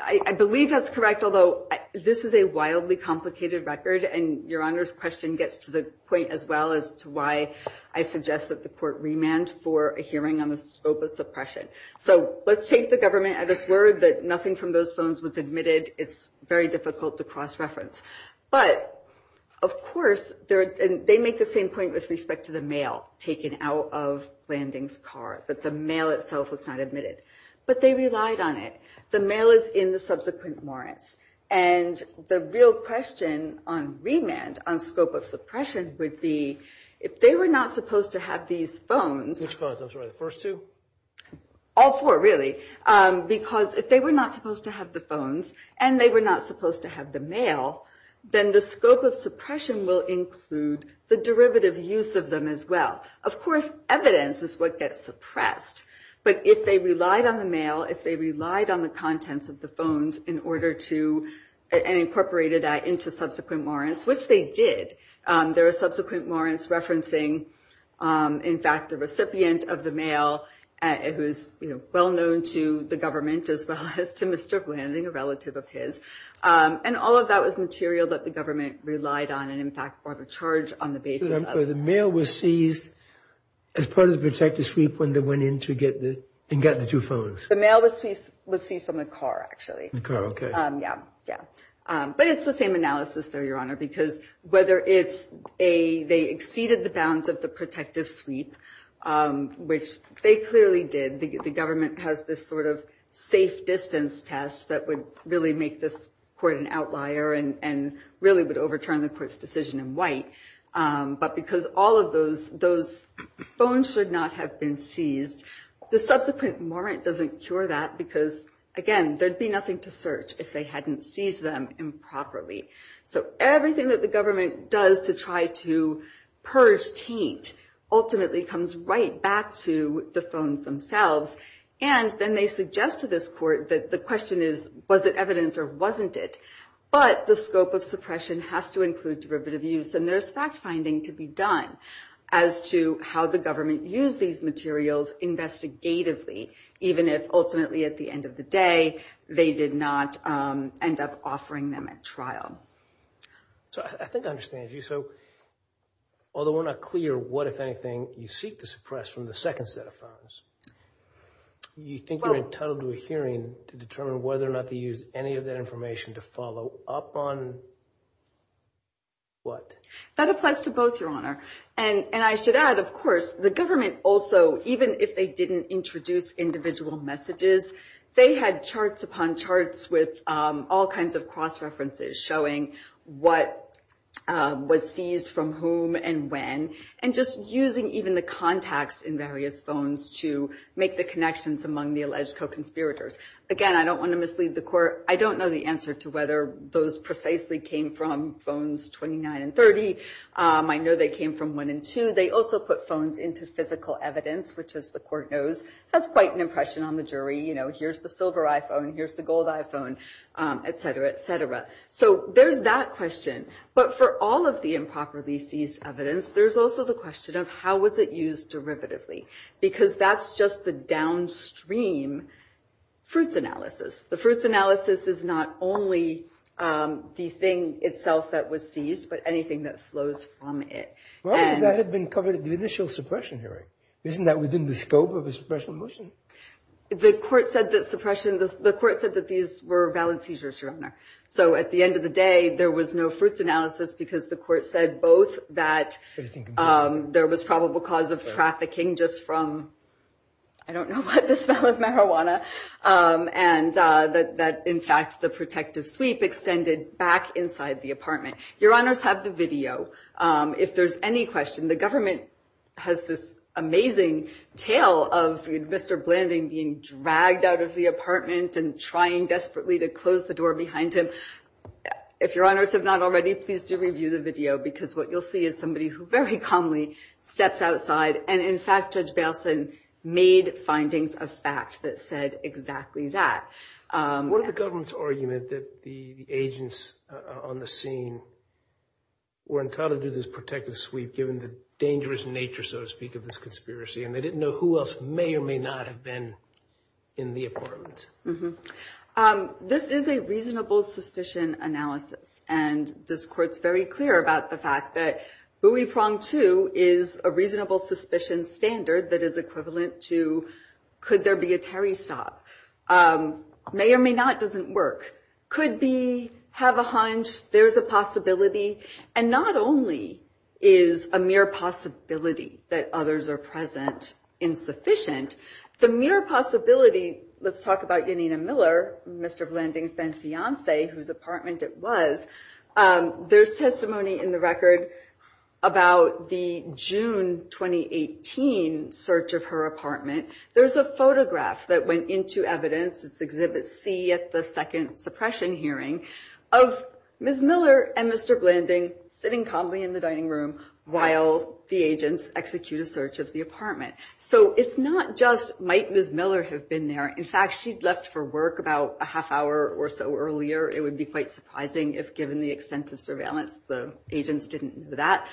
I believe that's correct. Although this is a wildly complicated record, and Your Honors question gets to the point as well as to why I suggest that the court remand for a hearing on the scope of suppression. So let's take the government at its word that nothing from those phones was admitted. It's very difficult to cross-reference. But of course, they make the same point with respect to the mail taken out of Landing's car, that the mail itself was not admitted. But they relied on it. The mail is in the subsequent warrant. And the real question on remand, on scope of suppression, would be, if they were not supposed to have these phones, all four really, because if they were not supposed to have the phones and they were not supposed to have the mail, then the scope of suppression will include the derivative use of them as well. Of course, evidence is what gets suppressed. But if they relied on the mail, if they relied on the contents of the phones in order to, and incorporated that into subsequent warrants, which they did. There are subsequent warrants referencing, in fact, the recipient of the mail, who's well-known to the government as well as to Mr. Blanding, a relative of his. And all of that was material that the government relied on and, in fact, brought a charge on the basis of. So the mail was seized as part of the protective sweep when they went in to get the two phones. The mail was seized from the car, actually. The car, OK. Yeah, yeah. But it's the same analysis, though, Your Honor, because whether it's they exceeded the bounds of the protective sweep, which they clearly did. The government has this sort of safe distance test that would really make this court an outlier and really would overturn the court's decision in white. But because all of those phones should not have been seized, the subsequent warrant doesn't cure that because, again, there'd be nothing to search if they hadn't seized them improperly. So everything that the government does to try to purge taint ultimately comes right back to the phones themselves. And then they suggest to this court that the question is, was it evidence or wasn't it? But the scope of suppression has to include derivative use. And there's fact finding to be done as to how the government used these materials investigatively, even if, ultimately, at the end of the day, they did not end up offering them at trial. So I think I understand you. So although we're not clear what, if anything, you seek to suppress from the second set of phones, you think you're entitled to a hearing to determine whether or not they used any of that information to follow up on what? That applies to both, Your Honor. And I should add, of course, the government also, even if they didn't introduce individual messages, they had charts upon charts with all kinds of cross-references showing what was seized from whom and when, and just using even the contacts in various phones to make the connections among the alleged co-conspirators. Again, I don't want to mislead the court. I don't know the answer to whether those precisely came from phones 29 and 30. I know they came from 1 and 2. They also put phones into physical evidence, which, as the court knows, has quite an impression on the jury. Here's the silver iPhone. Here's the gold iPhone, et cetera, et cetera. So there's that question. But for all of the improperly seized evidence, there's also the question of how was it used derivatively? Because that's just the downstream fruits analysis. The fruits analysis is not only the thing itself that was seized, but anything that flows from it. Well, that had been covered at the initial suppression hearing. Isn't that within the scope of a suppression motion? The court said that suppression, the court said that these were valid seizures, Your Honor. So at the end of the day, there was no fruits analysis because the court said both that there was probable cause of trafficking just from, I don't know what the spell is, marijuana, and that, in fact, the protective sleep extended back inside the apartment. Your Honors have the video. If there's any question, the government has this amazing tale of Mr. Blanding being dragged out of the apartment and trying desperately to close the door behind him. If Your Honors have not already, please do review the video, because what you'll see is somebody who very calmly steps outside. And in fact, Judge Belson made findings of facts that said exactly that. What if the government's argument that the agents on the scene were encountered in this protective sleep given the dangerous nature, so to speak, of this conspiracy and they didn't know who else may or may not have been in the apartment? This is a reasonable suspicion analysis. And this quote's very clear about the fact that bouifront 2 is a reasonable suspicion standard that is equivalent to could there be a carry stop? May or may not doesn't work. Could be, have a hunch, there's a possibility. And not only is a mere possibility that others are present insufficient, the mere possibility, let's talk about Janina Miller, Mr. Blanding's then fiance, whose apartment it was, there's testimony in the record about the June 2018 search of her apartment. There's a photograph that went into evidence, it's Exhibit C, at the second suppression hearing, of Ms. Miller and Mr. Blanding sitting calmly in the dining room while the agents execute a search of the apartment. So it's not just, might Ms. Miller have been there? In fact, she'd left for work about a half hour or so earlier. It would be quite surprising if given the extensive surveillance, the agents didn't do that.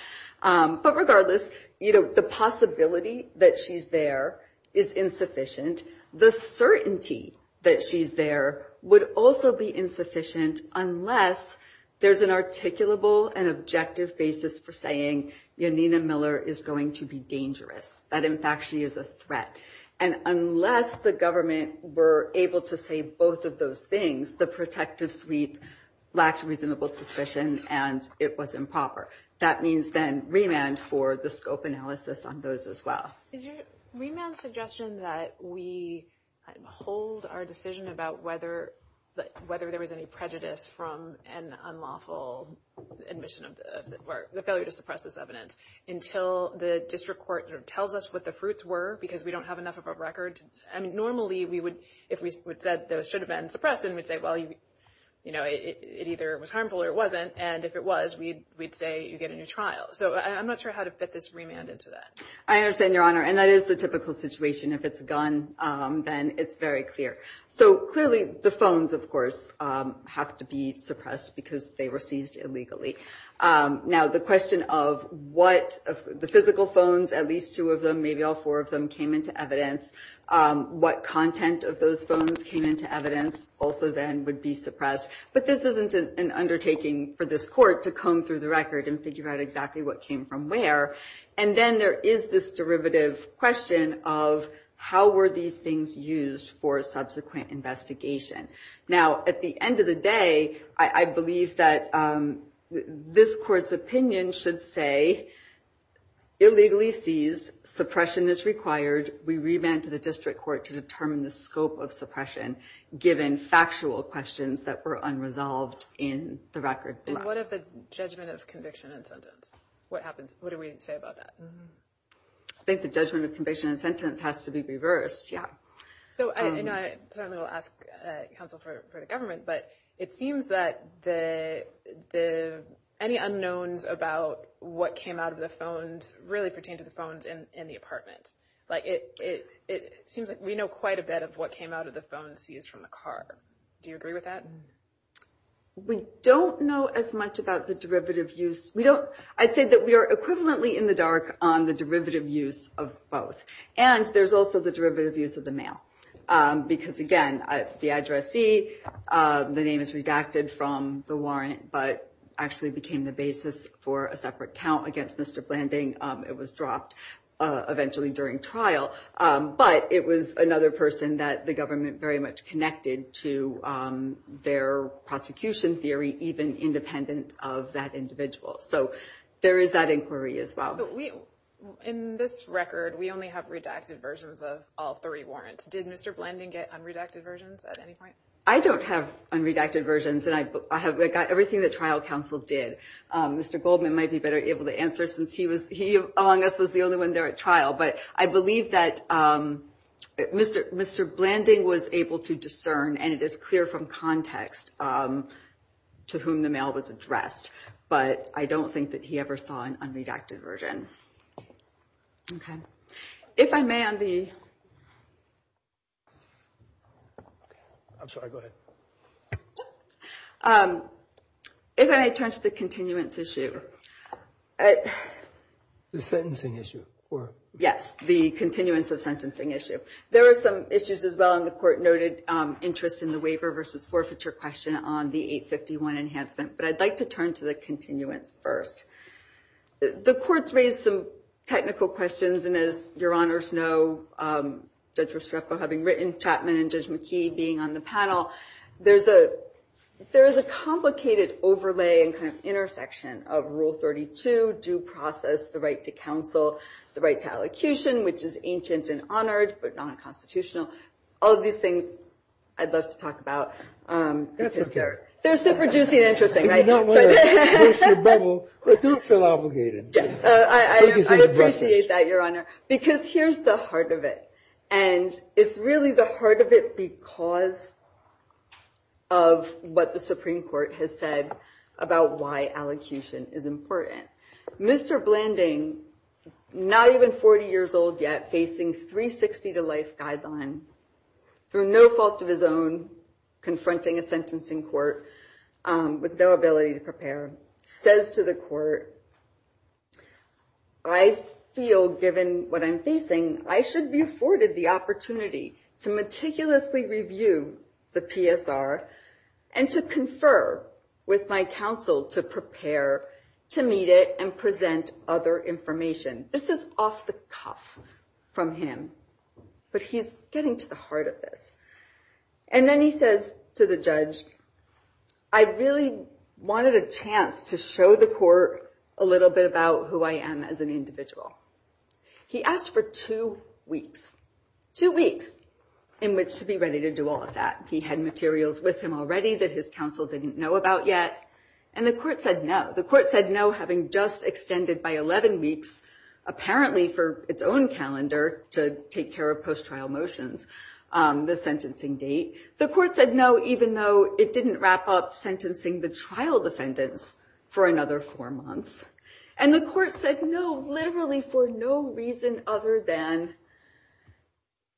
But regardless, the possibility that she's there is insufficient. The certainty that she's there would also be insufficient unless there's an articulable and objective basis for saying Janina Miller is going to be dangerous. That, in fact, she is a threat. And unless the government were able to say both of those things, the protective suite lacked reasonable suspicion and it was improper. That means then remand for the scope analysis on those as well. Is your remand suggestion that we hold our decision about whether there was any prejudice from an unlawful admission of the failure to suppress this evidence until the district court tells us what the fruits were because we don't have enough of a record? I mean, normally, if we said those should have been suppressed and we say, well, you know, it either was harmful or it wasn't. And if it was, we'd say you get a new trial. So I'm not sure how to fit this remand into that. I understand, Your Honor. And that is the typical situation. If it's a gun, then it's very clear. So clearly the phones, of course, have to be suppressed because they were seized illegally. Now, the question of what the physical phones, at least two of them, maybe all four of them, came into evidence, what content of those phones came into evidence also then would be suppressed. But this isn't an undertaking for this court to comb through the record and figure out exactly what came from where. And then there is this derivative question of how were these things used for subsequent investigation? Now, at the end of the day, I believe that this court's opinion should say illegally seized, suppression is required. We revamped the district court to determine the scope of suppression given factual questions that were unresolved in the record. What if it's judgment of conviction and sentence? What happens? What do we say about that? I think the judgment of conviction and sentence has to be reversed, yeah. So I don't know if I'll ask counsel for the government, but it seems that the, any unknowns about what came out of the phones really pertain to the phones in the apartment. Like it seems like we know quite a bit of what came out of the phones seized from the car. Do you agree with that? We don't know as much about the derivative use. We don't, I'd say that we are equivalently in the dark on the derivative use of both. And there's also the derivative use of the mail. Because again, the addressee, the name is redacted from the warrant, but actually became the basis for a separate count against Mr. Blanding. It was dropped eventually during trial, but it was another person that the government very much connected to their prosecution theory, even independent of that individual. So there is that inquiry as well. In this record, we only have redacted versions of all three warrants. Did Mr. Blanding get unredacted versions at any point? I don't have unredacted versions and I have everything that trial counsel did. Mr. Goldman might be better able to answer since he was, he was the only one there at trial. But I believe that Mr. Blanding was able to discern and it is clear from context to whom the mail was addressed. But I don't think that he ever saw an unredacted version. Okay. If I may, I'm the... I'm sorry, go ahead. If I turn to the continuance issue. The sentencing issue. Yes, the continuance of sentencing issue. There are some issues as well in the court noted interest in the waiver versus forfeiture question on the 851 enhancement. But I'd like to turn to the continuance first. The court's raised some technical questions and as your honors know, Judge Restrepo having written, Chapman and Judge McKee being on the panel, there's a complicated overlay and kind of intersection of rule 32, due process, the right to counsel, the right to allocution, which is ancient and honored, but non-constitutional. All of these things I'd love to talk about. That's okay. They're super juicy and interesting, right? If you don't want to miss your bubble, I do feel obligated. Yes, I appreciate that, your honor, because here's the heart of it. And it's really the heart of it because of what the Supreme Court has said about why allocution is important. Mr. Blanding, not even 40 years old yet, facing 360 to life guidelines for no fault of his own, confronting a sentencing court with no ability to prepare, says to the court, I feel given what I'm facing, I should be afforded the opportunity to meticulously review the PSR and to confer with my counsel to prepare to meet it and present other information. This is off the cuff from him, but he's getting to the heart of it. And then he says to the judge, I really wanted a chance to show the court a little bit about who I am as an individual. He asked for two weeks, two weeks, in which to be ready to do all of that. He had materials with him already that his counsel didn't know about yet. And the court said no. The court said no, having just extended by 11 weeks, apparently for its own calendar to take care of post-trial motions, the sentencing date. The court said no, even though it didn't wrap up sentencing the trial defendants for another four months. And the court said no, literally for no reason other than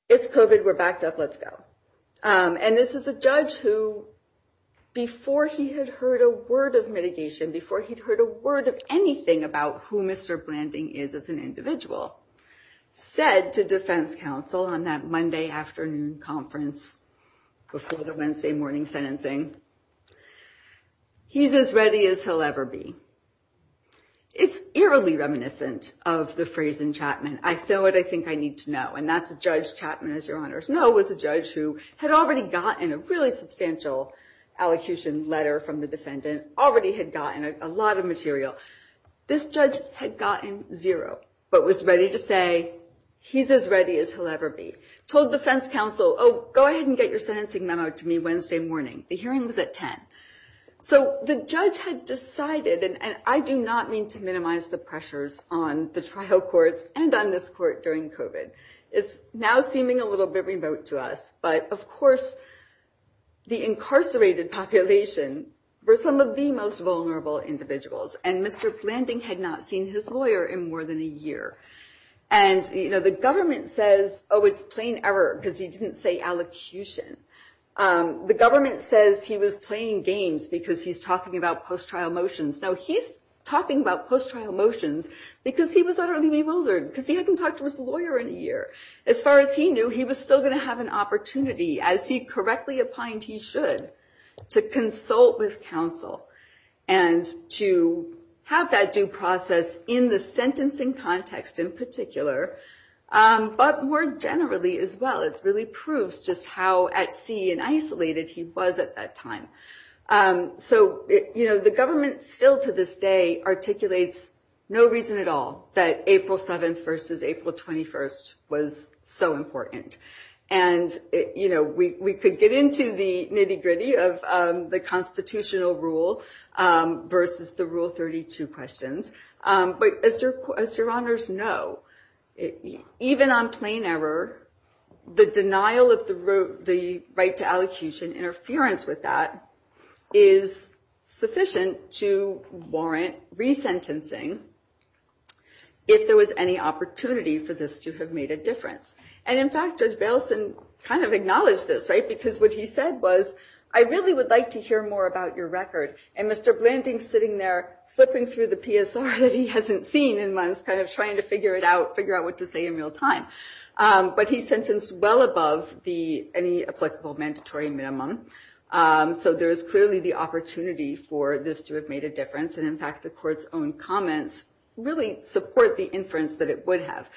it's COVID, we're backed up, let's go. And this is a judge who, before he had heard a word of mitigation, before he'd heard a word of anything about who Mr. Blanding is as an individual, said to defense counsel on that Monday afternoon conference before the Wednesday morning sentencing, he's as ready as he'll ever be. It's eerily reminiscent of the phrase in Chapman. I feel it, I think I need to know. And that's Judge Chapman, as your honors know, was a judge who had already gotten a really substantial allocution letter from the defendant, already had gotten a lot of material. This judge had gotten zero, but was ready to say, he's as ready as he'll ever be. Told defense counsel, oh, go ahead and get your sentencing memo to me Wednesday morning. The hearing was at 10. So the judge had decided, and I do not mean to minimize the pressures on the trial courts and on this court during COVID. It's now seeming a little bit remote to us. But of course, the incarcerated population were some of the most vulnerable individuals. And Mr. Blanding had not seen his lawyer in more than a year. And the government says, oh, it's plain error because he didn't say allocution. The government says he was playing games because he's talking about post-trial motions. Now he's talking about post-trial motions, because he was already way older, because he hadn't talked to his lawyer in a year. As far as he knew, he was still going to have an opportunity, as he correctly opined he should, to consult with counsel and to have that due process in the sentencing context in particular. But more generally as well, it really proves just how at sea and isolated he was at that time. So the government still to this day articulates no reason at all that April 7th versus April 21st was so important. And we could get into the nitty gritty of the constitutional rule versus the Rule 32 questions. But as your honors know, even on plain error, the denial of the right to allocation, interference with that, is sufficient to warrant resentencing if there was any opportunity for this to have made a difference. And in fact, Judge Baleson kind of acknowledged this, right? Because what he said was, I really would like to hear more about your record. And Mr. Blanding's sitting there flipping through the PSR that he hasn't seen in months, kind of trying to figure it out, figure out what to say in real time. But he sentenced well above any applicable mandatory minimum. So there's clearly the opportunity for this to have made a difference. And in fact, the court's own comments really support the inference that it would have.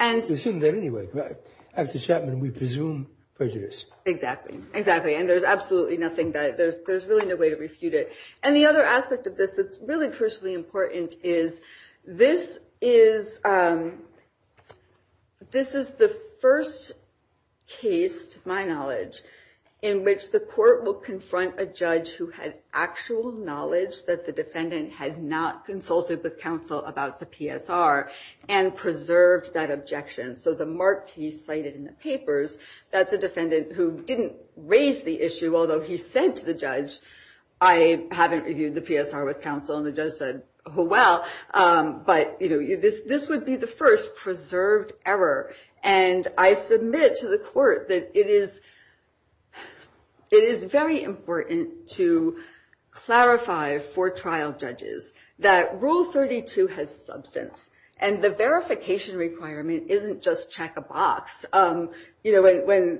And- We assume that anyway, right? After Chapman, we presume prejudice. Exactly, exactly. And there's absolutely nothing that, there's really no way to refute it. And the other aspect of this that's really crucially important is, this is the first case, to my knowledge, in which the court will confront a judge who has actual knowledge that the defendant has not consulted the counsel about the PSR and preserved that objection. So the mark he cited in the papers, that's a defendant who didn't raise the issue, although he said to the judge, I haven't reviewed the PSR with counsel, and the judge said, oh, well. But this would be the first preserved error. And I submit to the court that it is very important to clarify for trial judges that Rule 32 has substance, and the verification requirement isn't just check a box. When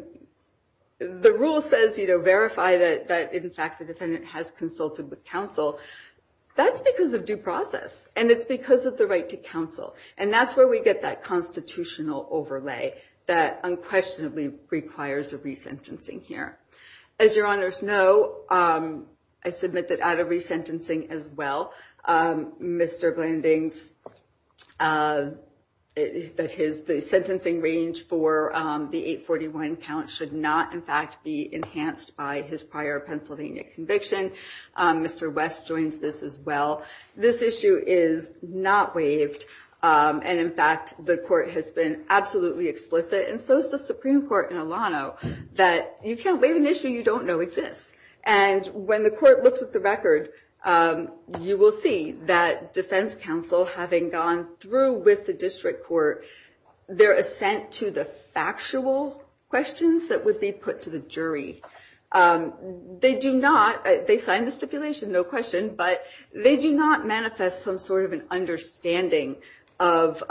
the rule says, verify that, in fact, the defendant has consulted with counsel, that's because of due process. And it's because of the right to counsel. And that's where we get that constitutional overlay that unquestionably requires a resentencing here. As your honors know, I submit that out of resentencing as well, Mr. Blanding's sentencing range for the 841 count should not, in fact, be enhanced by his prior Pennsylvania conviction. Mr. West joins this as well. This issue is not waived. And in fact, the court has been absolutely explicit, and so has the Supreme Court in Alano, that you can't waive an issue you don't know exists. And when the court looks at the record, you will see that defense counsel, having gone through with the district court, their assent to the factual questions that would be put to the jury, they do not, they sign the stipulation, no question, but they do not manifest some sort of an understanding of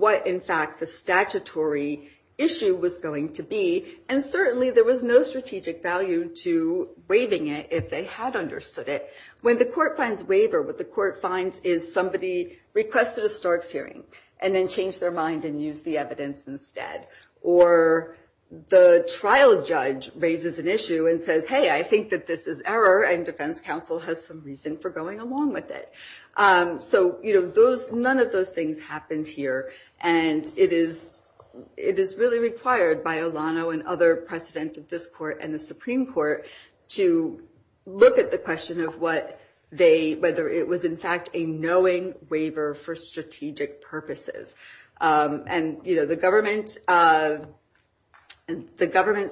what, in fact, the statutory issue was going to be. And certainly, there was no strategic value to waiving it if they had understood it. When the court finds waiver, what the court finds is somebody requested a stark hearing and then changed their mind and used the evidence instead. Or the trial judge raises an issue and says, hey, I think that this is error, and defense counsel has some reason for going along with it. So none of those things happened here. And it is really required by Alano and other presidents of this court and the Supreme Court to look at the question of what they, whether it was, in fact, a knowing waiver for strategic purposes. And the government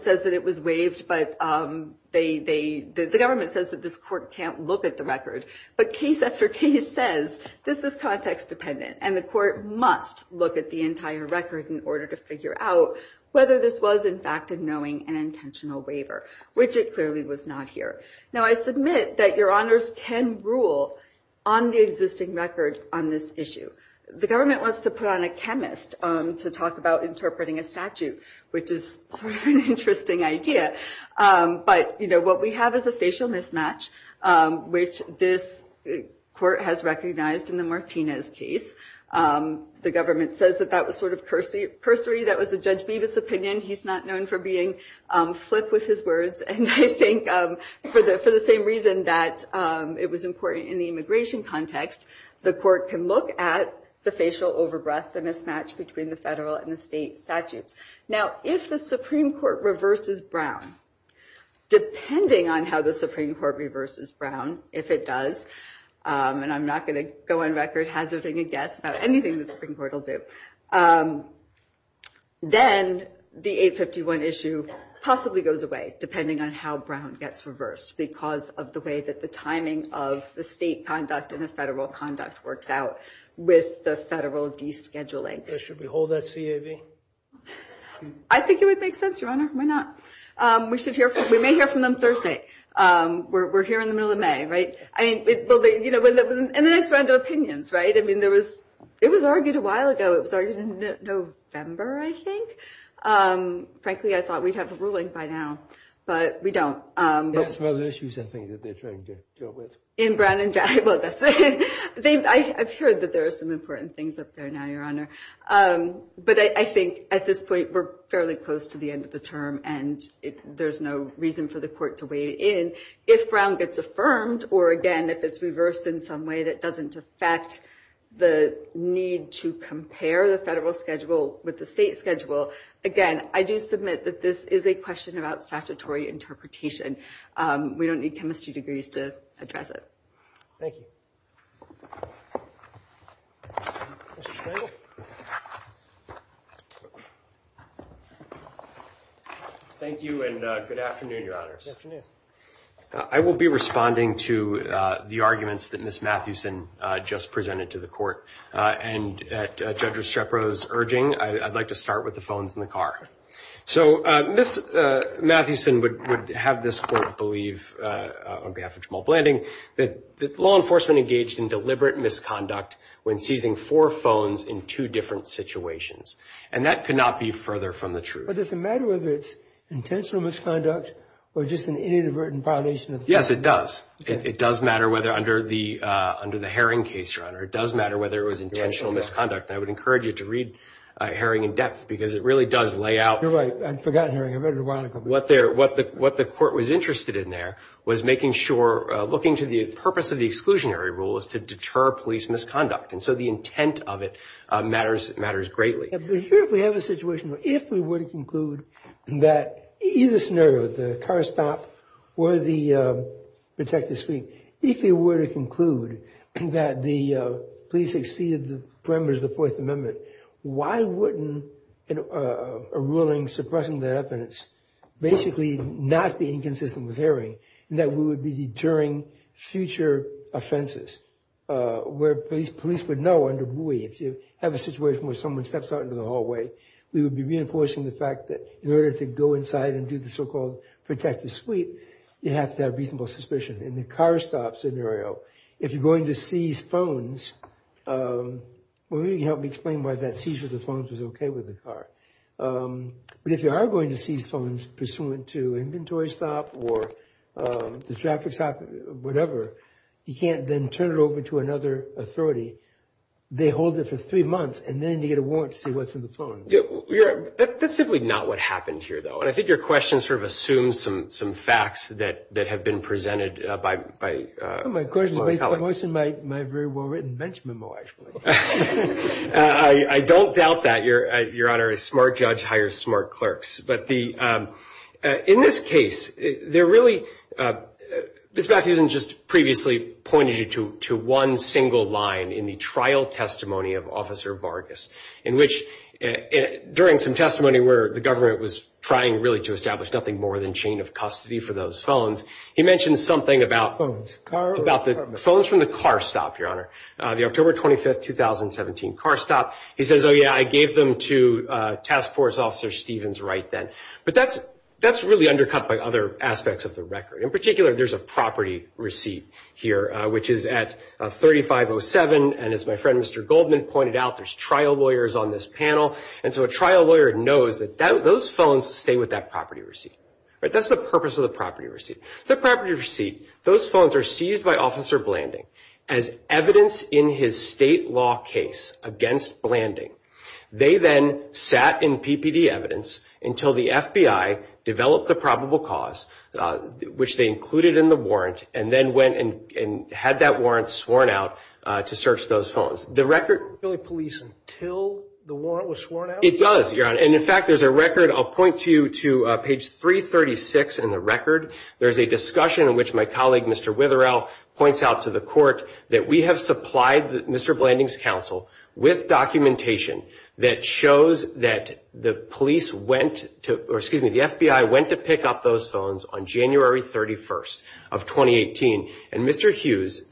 says that it was waived, but the government says that this court can't look at the record. But case after case says, this is context-dependent, and the court must look at the entire record in order to figure out whether this was, in fact, a knowing and intentional waiver, which it clearly was not here. Now, I submit that your honors can rule on the existing records on this issue. The government wants to put on a chemist to talk about interpreting a statute, which is sort of an interesting idea. But what we have is a facial mismatch, which this court has recognized in the Martinez case. The government says that that was sort of cursory. That was the Judge Beavis' opinion. He's not known for being flipped with his words. And I think for the same reason that it was important in the immigration context, the court can look at the facial overbreadth, the mismatch between the federal and the state statutes. Now, if the Supreme Court reverses Brown, depending on how the Supreme Court reverses Brown, if it does, and I'm not going to go on record hazarding a guess about anything the Supreme Court will do, then the 851 issue possibly goes away, depending on how Brown gets reversed because of the way that the timing of the state conduct and the federal conduct works out with the federal descheduling. So should we hold that CAV? I think it would make sense, your honor. Why not? We may hear from them Thursday. We're here in the middle of May, right? And then it's general opinions, right? I mean, it was argued a while ago. It was argued in November, I think. Frankly, I thought we'd have the ruling by now, but we don't. Yeah, it's one of the issues, I think, that they're trying to deal with. In Brown and Jackson. Well, I'm sure that there are some important things up there now, your honor. But I think at this point, we're fairly close to the end of the term. And there's no reason for the court to weigh in. If Brown gets affirmed, or again, if it's reversed in some way that doesn't affect the need to compare the federal schedule with the state schedule. Again, I do submit that this is a question about statutory interpretation. We don't need chemistry degrees to address it. Thank you. Thank you, and good afternoon, your honors. Good afternoon. I will be responding to the arguments that Ms. Mathewson just presented to the court. And at Judge Eschepro's urging, I'd like to start with the phones in the car. So Ms. Mathewson would have this court believe, on behalf of Jamal Blanding, that law enforcement engaged in deliberate misconduct when seizing four phones in two different situations. And that could not be further from the truth. Does it matter whether it's intentional misconduct or just an inadvertent violation? Yes, it does. It does matter whether, under the Herring case, your honor, it does matter whether it was intentional misconduct. And I would encourage you to read Herring in depth because it really does lay out. You're right, I forgot Herring. I read it a while ago. What the court was interested in there was making sure, looking to the purpose of the exclusionary rule is to deter police misconduct. And so the intent of it matters greatly. If we have a situation where, if we were to conclude that either scenario, the car stop or the detective's feet, if we were to conclude that the police exceeded the parameters of the Fourth Amendment, why wouldn't a ruling suppressing the evidence basically not be inconsistent with Herring and that we would be deterring future offenses where police would know, under Bowie, if you have a situation where someone steps out into the hallway, we would be reinforcing the fact that in order to go inside and do the so-called protective sweep, you have to have reasonable suspicion. In the car stop scenario, if you're going to seize phones, well, maybe you can help me explain why that seizure of the phones was okay with the car. But if you are going to seize phones pursuant to inventory stop or the traffic stop, whatever, you can't then turn it over to another authority. They hold it for three months and then you get a warrant to see what's in the phone. Yeah, that's simply not what happened here, though. And I think your question sort of assumes some facts that have been presented by... Well, my question is based on what's in my very well-written bench memo, actually. I don't doubt that, Your Honor. A smart judge hires smart clerks. But in this case, they're really... Ms. Matthews has just previously pointed you to one single line in the trial testimony of Officer Vargas, in which, during some testimony where the government was trying really to establish nothing more than chain of custody for those phones, he mentioned something about the phones from the car stop, Your Honor. The October 25th, 2017 car stop. He says, oh yeah, I gave them to Task Force Officer Stevens right then. But that's really undercut by other aspects of the record. In particular, there's a property receipt here, which is at 3507. And as my friend Mr. Goldman pointed out, there's trial lawyers on this panel. And so a trial lawyer knows that those phones stay with that property receipt. That's the purpose of the property receipt. The property receipt, those phones are seized by Officer Blanding as evidence in his state law case against Blanding. They then sat in PPD evidence until the FBI developed the probable cause, which they included in the warrant, and then went and had that warrant sworn out to search those phones. The record- Really police until the warrant was sworn out? It does, Your Honor. And in fact, there's a record, I'll point to you to page 336 in the record. There's a discussion in which my colleague, Mr. Witherell points out to the court that we have supplied Mr. Blanding's counsel with documentation that shows that the police went to, or excuse me, the FBI went to pick up those phones on January 31st of 2018, and Mr. Hughes,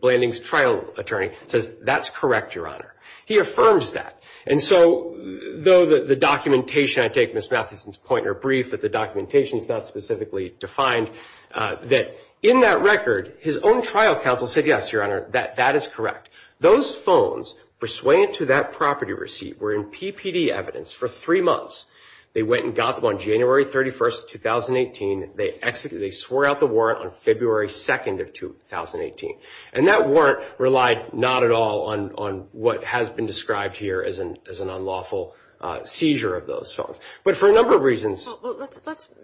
Blanding's trial attorney, says that's correct, Your Honor. He affirms that. And so though the documentation, I take Ms. Matheson's point in her brief that the documentation is not specifically defined, that in that record, his own trial counsel said, yes, Your Honor, that is correct. Those phones persuaded to that property receipt were in PPD evidence for three months. They went and got them on January 31st, 2018. They swore out the warrant on February 2nd of 2018. And that warrant relied not at all on what has been described here as an unlawful seizure of those phones. But for a number of reasons- Well, let's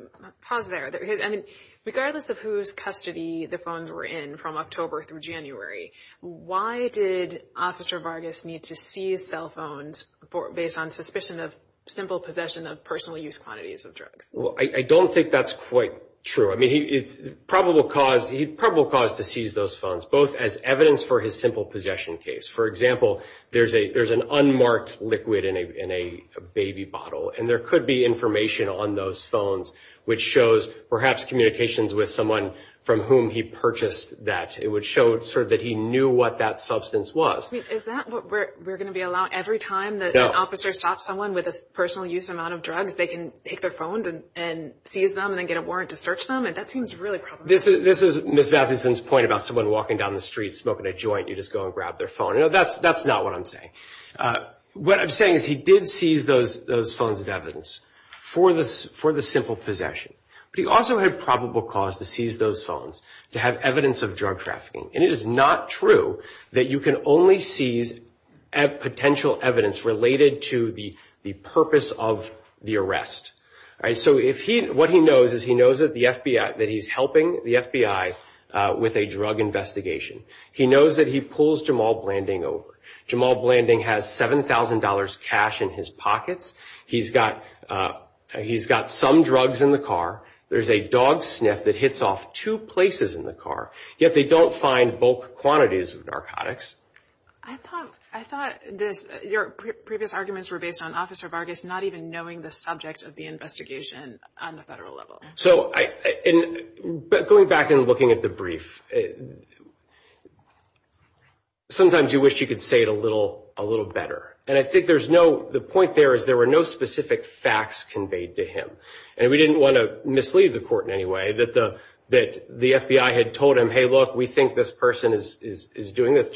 pause there. I mean, regardless of whose custody the phones were in from October through January, why did Officer Vargas need to seize cell phones based on suspicion of simple possession of personal use quantities of drugs? I don't think that's quite true. I mean, he's probable cause to seize those phones, both as evidence for his simple possession case. For example, there's an unmarked liquid in a baby bottle, and there could be information on those phones which shows perhaps communications with someone from whom he purchased that. It would show sort of that he knew what that substance was. Is that what we're gonna be allowed every time that an officer stops someone with a personal use amount of drugs, they can take their phones and seize them and then get a warrant to search them? And that seems really probable. This is Ms. Dattleson's point about someone walking down the street, smoking a joint, you just go and grab their phone. You know, that's not what I'm saying. What I'm saying is he did seize those phones of evidence for the simple possession. But he also had probable cause to seize those phones to have evidence of drug trafficking. And it is not true that you can only seize potential evidence related to the purpose of the arrest. So what he knows is he knows that the FBI, that he's helping the FBI with a drug investigation. He knows that he pulls Jamal Blanding over. Jamal Blanding has $7,000 cash in his pockets. He's got some drugs in the car. There's a dog sniff that hits off two places in the car, yet they don't find bulk quantities of narcotics. I thought your previous arguments were based on Officer Vargas not even knowing the subject of the investigation on the federal level. So going back and looking at the brief, sometimes you wish you could say it a little better. And I think there's no, the point there is there were no specific facts conveyed to him. And we didn't want to mislead the court in any way that the FBI had told him, hey, look, we think this person is doing this.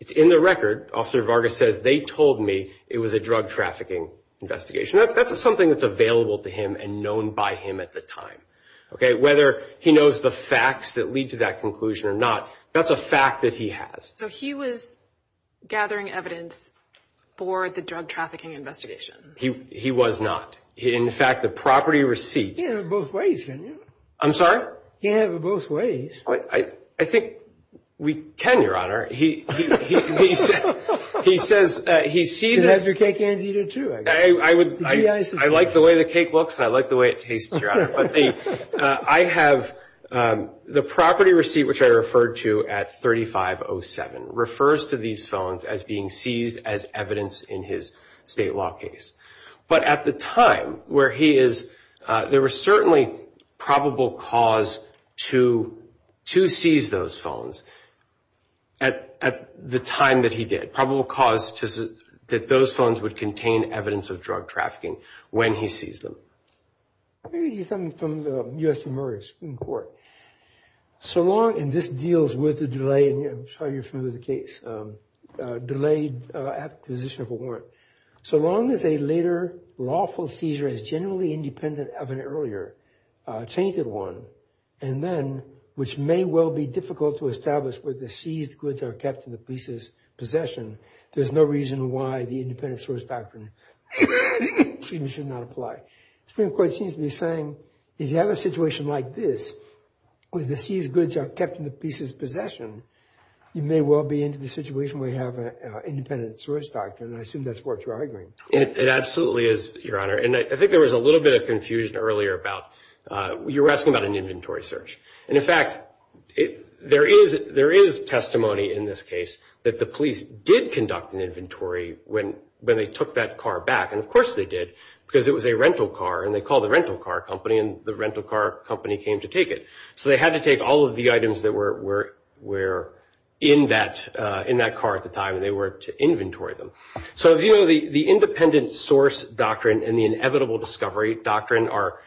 It's in the record. Officer Vargas says, they told me it was a drug trafficking investigation. That's something that's available to him and known by him at the time. Whether he knows the facts that lead to that conclusion or not, that's a fact that he has. So he was gathering evidence for the drug trafficking investigation. He was not. In fact, the property receipt. Yeah, they're both ways, isn't it? I'm sorry? Yeah, they're both ways. I think we can, Your Honor. He says he sees. He has your cake and eat it too. I like the way the cake looks. I like the way it tastes, Your Honor. But I have the property receipt, which I referred to at 3507, refers to these felons as being seized as evidence in his state law case. But at the time where he is, there were certainly probable cause to seize those felons at the time that he did. Probable cause that those felons would contain evidence of drug trafficking when he seized them. Let me read you something from the U.S. Supreme Court. So long, and this deals with the delaying, I'll show you through the case, delayed acquisition of a warrant. So long as a later lawful seizure is generally independent of an earlier tainted one, and then, which may well be difficult to establish where the seized goods are kept in the police's possession, there's no reason why the independent source doctrine should not apply. Supreme Court seems to be saying, if you have a situation like this, where the seized goods are kept in the police's possession, you may well be into the situation where you have an independent source doctrine. I assume that's what you're arguing. It absolutely is, Your Honor. And I think there was a little bit of confusion earlier about, you were asking about an inventory search. And in fact, there is testimony in this case that the police did conduct an inventory when they took that car back. And of course they did, because it was a rental car and they called the rental car company and the rental car company came to take it. So they had to take all of the items that were in that car at the time and they were to inventory them. So the independent source doctrine and the inevitable discovery doctrine are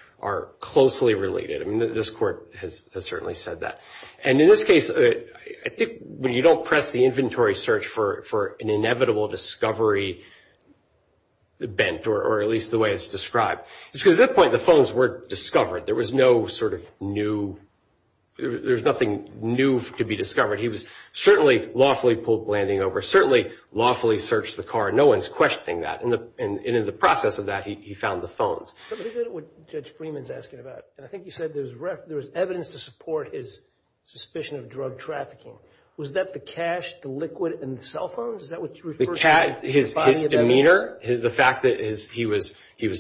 closely related. I mean, this court has certainly said that. And in this case, I think when you don't press the inventory search for an inevitable discovery bent, or at least the way it's described, it's because at that point, the phones weren't discovered. There was no sort of new, there's nothing new to be discovered. He was certainly lawfully pulled landing over, certainly lawfully searched the car. No one's questioning that. And in the process of that, he found the phones. I think that's what Judge Freeman's asking about. And I think he said there was evidence to support his suspicion of drug trafficking. Was that the cash, the liquid, and cell phones? Is that what you're referring to? His demeanor, the fact that he was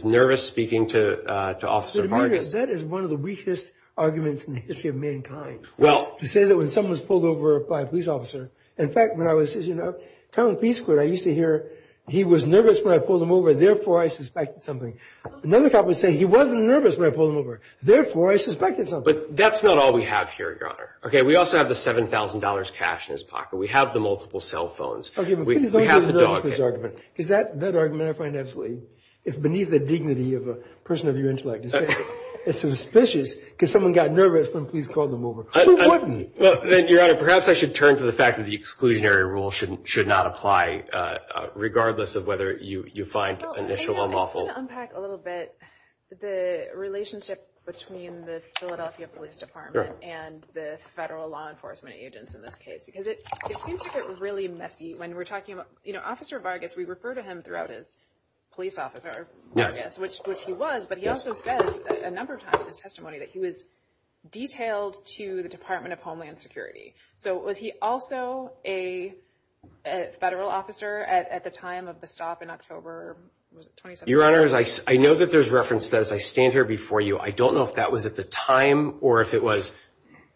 nervous speaking to Officer Martin. That is one of the weakest arguments in the history of mankind. Well. You say that when someone's pulled over by a police officer. In fact, when I was teaching at Townsend Police School, I used to hear, he was nervous when I pulled him over. Therefore, I suspected something. Another cop would say, he wasn't nervous when I pulled him over. Therefore, I suspected something. But that's not all we have here, Your Honor. OK, we also have the $7,000 cash in his pocket. We have the multiple cell phones. OK, but please don't use that as an argument. Because that argument, I find absolutely, it's beneath the dignity of a person of your intellect. It's suspicious, because someone got nervous when a police called him over. Who warned you? Well, Your Honor, perhaps I should turn to the fact that the exclusionary rule should not apply, regardless of whether you find initial unlawful. I want to unpack a little bit the relationship between the Philadelphia Police Department and the federal law enforcement agents in this case. Because it seems to get really messy when we're talking about Officer Vargas. We refer to him throughout as police officer, Vargas, which he was. But he also says a number of times in his testimony that he was detailed to the Department of Homeland Security. So was he also a federal officer at the time of the stop in October 2017? Your Honor, I know that there's reference to that as I stand here before you. I don't know if that was at the time, or if it was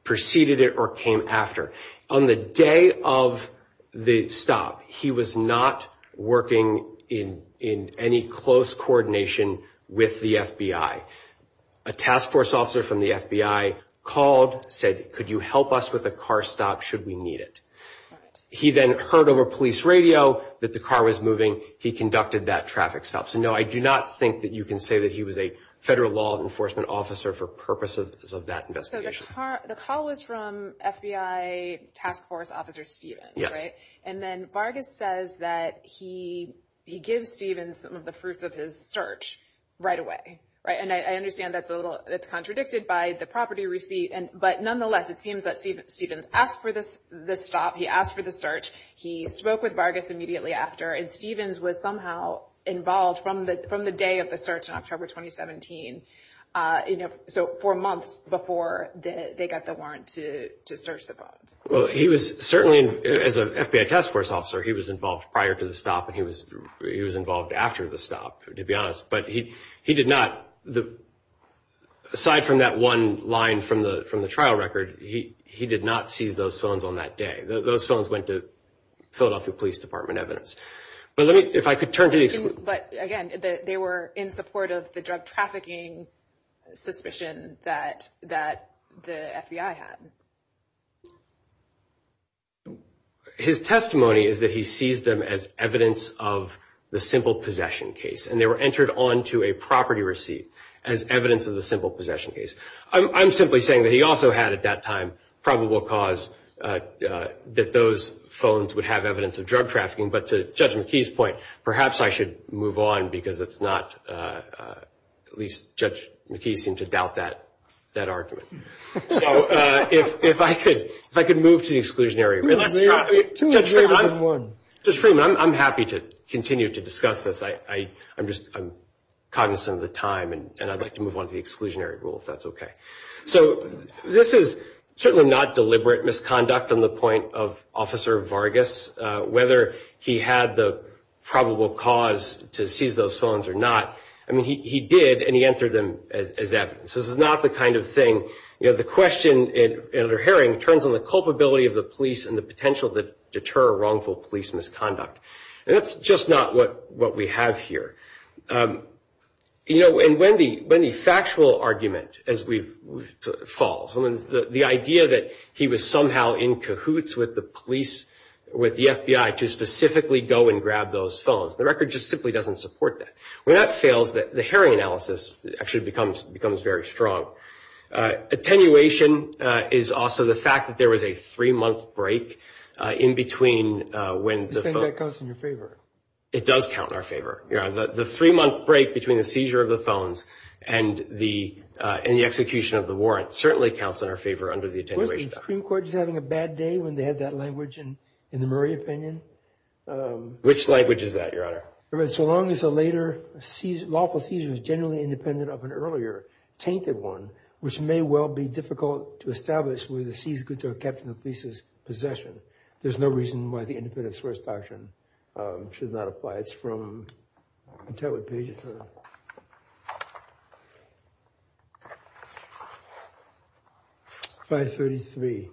preceded it or came after. On the day of the stop, he was not working in any close coordination with the FBI. A task force officer from the FBI called, said, could you help us with a car stop should we need it? He then heard over police radio that the car was moving. He conducted that traffic stop. So no, I do not think that you can say that he was a federal law enforcement officer for purposes of that investigation. So the call was from FBI Task Force Officer Stevens, right? And then Vargas says that he gives Stevens some of the fruits of his search right away, right? And I understand that's contradicted by the property receipt. But nonetheless, it seems that Stevens asked for the stop. He asked for the search. He spoke with Vargas immediately after. And Stevens was somehow involved from the day of the search in October 2017. So four months before they got the warrant to search the bus. Well, he was certainly, as a FBI Task Force officer, he was involved prior to the stop. And he was involved after the stop, to be honest. But he did not, aside from that one line from the trial record, he did not seize those felons on that day. Those felons went to Philadelphia Police Department evidence. But let me, if I could turn to these. But again, they were in support of the drug trafficking suspicion that the FBI had. His testimony is that he seized them as evidence of the simple possession case. And they were entered onto a property receipt as evidence of the simple possession case. I'm simply saying that he also had, at that time, probable cause that those felons would have evidence of drug trafficking. But to Judge McKee's point, perhaps I should move on because it's not, at least Judge McKee seemed to doubt that argument. So if I could move to the exclusionary rule. Two greater than one. Judge Freeman, I'm happy to continue to discuss this. I'm cognizant of the time. And I'd like to move on to the exclusionary rule if that's OK. So this is certainly not deliberate misconduct on the point of Officer Vargas. Whether he had the probable cause to seize those felons or not, I mean, he did. And he entered them as evidence. This is not the kind of thing, you know, the question in the hearing turns on the culpability of the police and the potential to deter wrongful police misconduct. And that's just not what we have here. You know, and when the factual argument, as we've, falls, the idea that he was somehow in cahoots with the police, with the FBI, to specifically go and grab those felons, the record just simply doesn't support that. When that fails, the hearing analysis actually becomes very strong. Attenuation is also the fact that there was a three-month break in between when the felons. You think that counts in your favor? It does count in our favor. The three-month break between the seizure of the felons and the execution of the warrant certainly counts in our favor under the attenuation. Was the Supreme Court just having a bad day when they had that language in the Murray opinion? Which language is that, Your Honor? So long as a later lawful seizure is generally independent of an earlier tainted one, which may well be difficult to establish whether the seized goods are kept in the police's possession. There's no reason why the independent source of possession should not apply. It's from, I can't tell what page it's on, 533.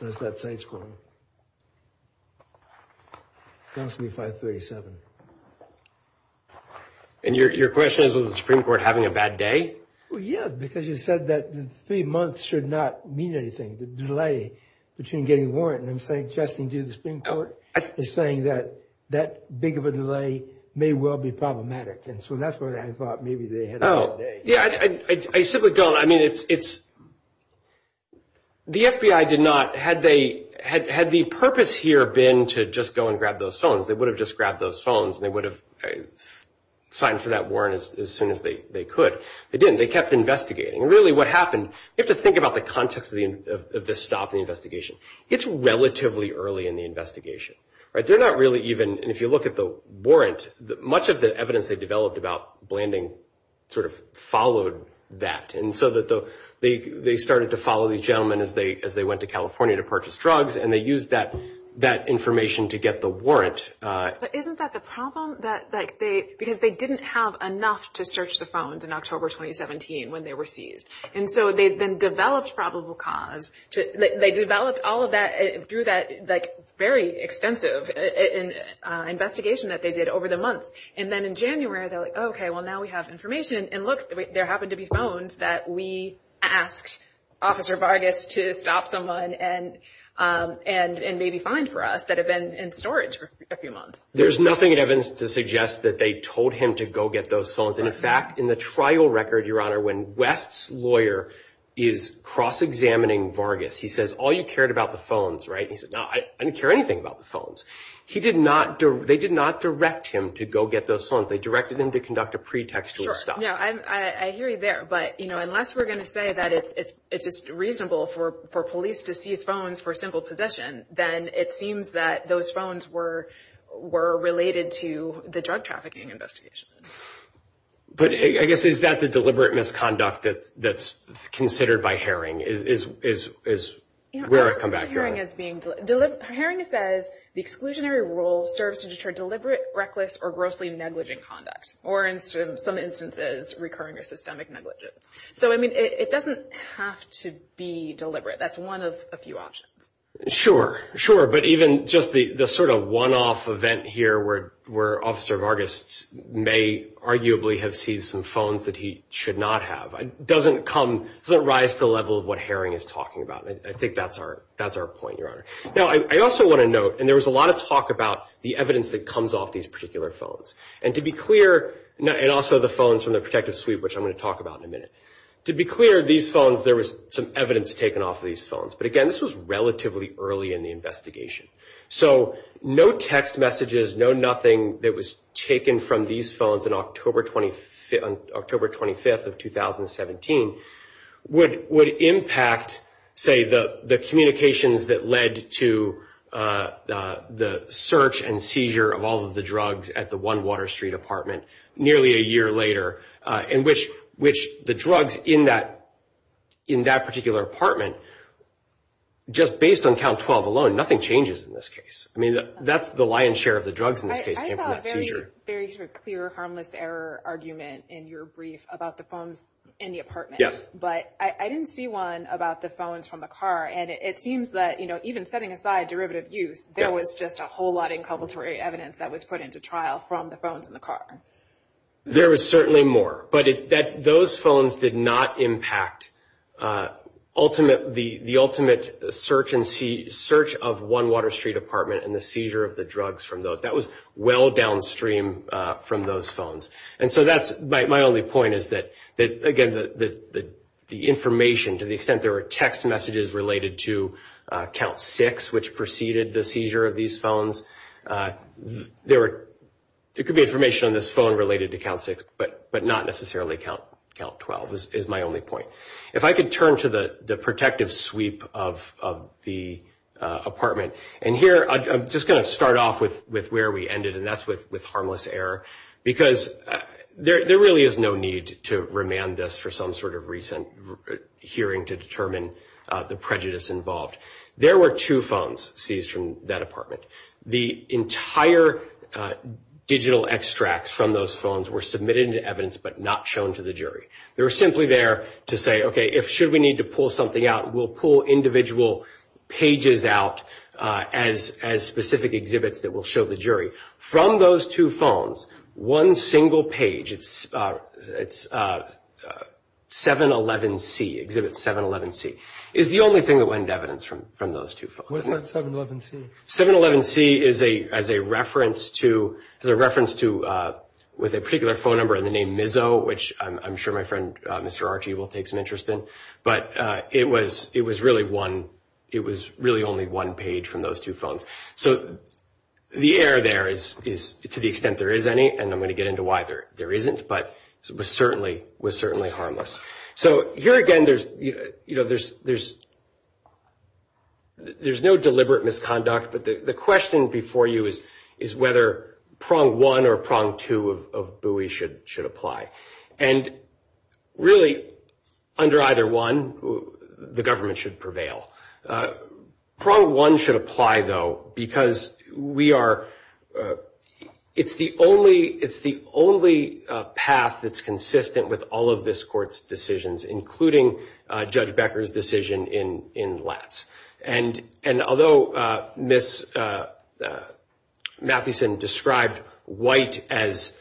That's that site's quote. It must be 537. And your question is, was the Supreme Court having a bad day? Well, yeah, because you said that three months should not mean anything. The delay between getting a warrant, and I'm suggesting to the Supreme Court, I think they're saying that that big of a delay may well be problematic. And so that's where I thought maybe they had a bad day. Yeah, I simply don't. The FBI did not, had the purpose here been to just go and grab those felons, they would have just grabbed those felons and they would have signed for that warrant as soon as they could. They didn't. They kept investigating. Really, what happened, you have to think about the context of the stop in the investigation. It's relatively early in the investigation. If you look at the warrant, much of the evidence they developed about Blanding sort of followed that. And so they started to follow these gentlemen as they went to California to purchase drugs, and they used that information to get the warrant. But isn't that the problem? Because they didn't have enough to search the phones in October 2017 when they were seized. And so they then developed probable cause. They developed all of that through that very extensive investigation that they did over the month. And then in January, they're like, okay, well, now we have information. And look, there happened to be phones that we asked Officer Vargas to stop someone and maybe find for us that have been in storage for a few months. There's nothing in evidence to suggest that they told him to go get those phones. In fact, in the trial record, Your Honor, when West's lawyer is cross-examining Vargas, he says, all you cared about the phones, right? And he said, no, I didn't care anything about the phones. They did not direct him to go get those phones. They directed him to conduct a pretext to stop. Sure, yeah, I hear you there. But unless we're gonna say that if it's reasonable for police to seize phones for simple possession, then it seems that those phones were related to the drug trafficking investigation. But I guess, is that the deliberate misconduct that's considered by Haring? Is where I've come back to? Haring is being, Haring says, the exclusionary rule serves to deter deliberate, reckless, or grossly negligent conduct, or in some instances, recurring or systemic negligence. So, I mean, it doesn't have to be deliberate. That's one of a few options. Sure, sure, but even just the sort of one-off event here where Officer Vargas may arguably have seized some phones that he should not have, doesn't come, doesn't rise to the level of what Haring is talking about. I think that's our point, Your Honor. Now, I also wanna note, and there was a lot of talk about the evidence that comes off these particular phones. And to be clear, and also the phones from the protective suite, which I'm gonna talk about in a minute. To be clear, these phones, there was some evidence taken off of these phones. But again, this was relatively early in the investigation. So, no text messages, no nothing that was taken from these phones on October 25th of 2017 would impact, say, the communications that led to the search and seizure of all of the drugs at the One Water Street apartment nearly a year later, in which the drugs in that particular apartment, just based on count 12 alone, nothing changes in this case. I mean, that's the lion's share of the drugs in this case came from the seizure. I saw a very clear harmless error argument in your brief about the phones in the apartment. Yes. But I didn't see one about the phones from the car. And it seems that, even setting aside derivative use, there was just a whole lot of inculpatory evidence that was put into trial from the phones in the car. There was certainly more. But those phones did not impact the ultimate search of One Water Street apartment and the seizure of the drugs from those. That was well downstream from those phones. And so that's my only point is that, again, the information, to the extent there were text messages related to count six, which preceded the seizure of these phones, there could be information on this phone related to count six, but not necessarily count 12 is my only point. If I could turn to the protective sweep of the apartment. And here, I'm just gonna start off with where we ended, and that's with harmless error. Because there really is no need to remand this for some sort of recent hearing to determine the prejudice involved. There were two phones seized from that apartment. The entire digital extracts from those phones were submitted into evidence, but not shown to the jury. They were simply there to say, if should we need to pull something out, we'll pull individual pages out as specific exhibits that will show the jury. From those two phones, one single page, it's 711C, exhibit 711C, is the only thing that went into evidence from those two phones. What's that 711C? 711C is a reference to, with a particular phone number and the name Mizzo, which I'm sure my friend, Mr. Archie, will take some interest in. But it was really only one page from those two phones. So the error there is to the extent there is any, and I'm gonna get into why there isn't, but it was certainly harmless. So here again, there's no deliberate misconduct, but the question before you is whether prong one or prong two of Bowie should apply. And really under either one, the government should prevail. Prong one should apply though, because it's the only path that's consistent with all of this court's decisions, including Judge Becker's decision in Latz. And although Ms. Mathieson described white as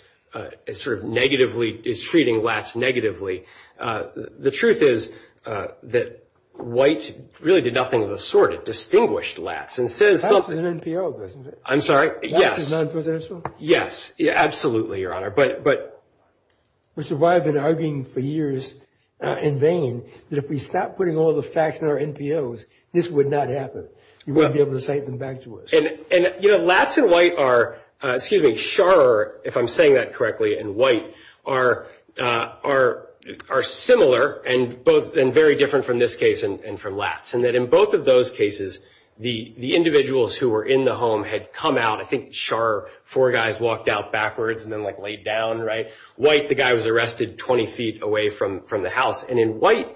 sort of negatively, is treating Latz negatively, the truth is that white really did nothing of the sort. It distinguished Latz and says- Latz is an NPO, isn't it? I'm sorry, yes. Latz is non-presidential? Yes. Absolutely, Your Honor. But- Mr. White has been arguing for years in vain that if we stop putting all the facts in our NPOs, this would not happen. You wouldn't be able to say them back to us. And you know, Latz and white are, excuse me, Scharrer, if I'm saying that correctly, and white are similar and very different from this case and from Latz. And that in both of those cases, the individuals who were in the home had come out. I think Scharrer, four guys walked out backwards and then like laid down, right? White, the guy was arrested 20 feet away from the house. And in white,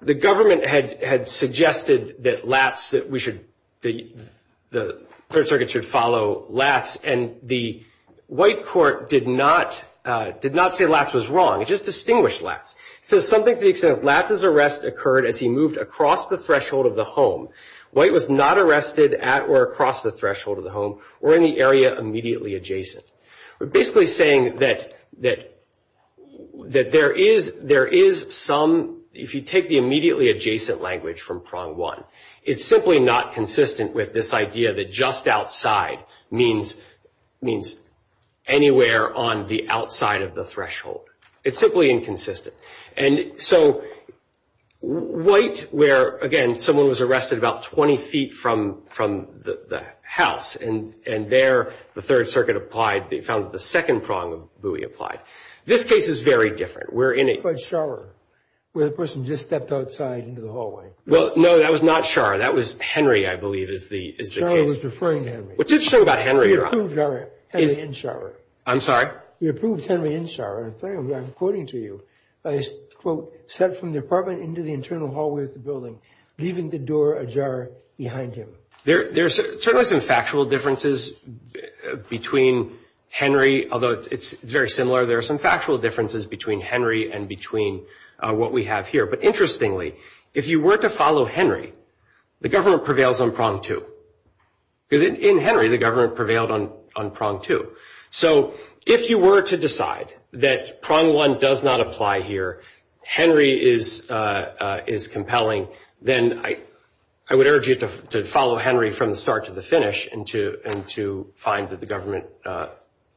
the government had suggested that Latz, that we should, the Third Circuit should follow Latz. And the white court did not say Latz was wrong. It just distinguished Latz. So something to the extent that Latz's arrest occurred as he moved across the threshold of the home. White was not arrested at or across the threshold of the home or in the area immediately adjacent. We're basically saying that there is some, if you take the immediately adjacent language from prong one, it's simply not consistent with this idea that just outside means anywhere on the outside of the threshold. It's simply inconsistent. And so white where, again, someone was arrested about 20 feet from the house. And there, the Third Circuit applied. They found that the second prong really applied. This case is very different. We're in a- But Scharrer, where the person just stepped outside into the hallway. Well, no, that was not Scharrer. That was Henry, I believe, is the case. I was referring to Henry. What's interesting about Henry, Rob? He approved Henry in Scharrer. I'm sorry? He approved Henry in Scharrer. And I'm quoting to you. I quote, stepped from the apartment into the internal hallway of the building, leaving the door ajar behind him. There's certainly some factual differences between Henry, although it's very similar. There are some factual differences between Henry and between what we have here. But interestingly, if you were to follow Henry, the government prevails on prong two. In Henry, the government prevailed on prong two. So if you were to decide that prong one does not apply here, Henry is compelling. Then I would urge you to follow Henry from the start to the finish and to find that the government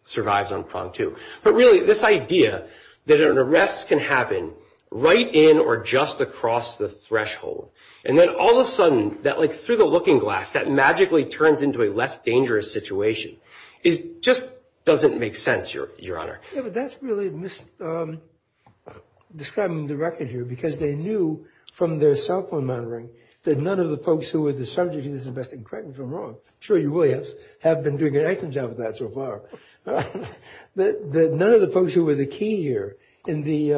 survives on prong two. But really, this idea that an arrest can happen right in or just across the threshold and then all of a sudden, through the looking glass, that magically turns into a less dangerous situation. It just doesn't make sense, Your Honor. Yeah, but that's really describing the record here because they knew from their cell phone monitoring that none of the folks who were the subject of this investigation, correct me if I'm wrong, I'm sure you will, have been doing an excellent job of that so far, that none of the folks who were the key here in the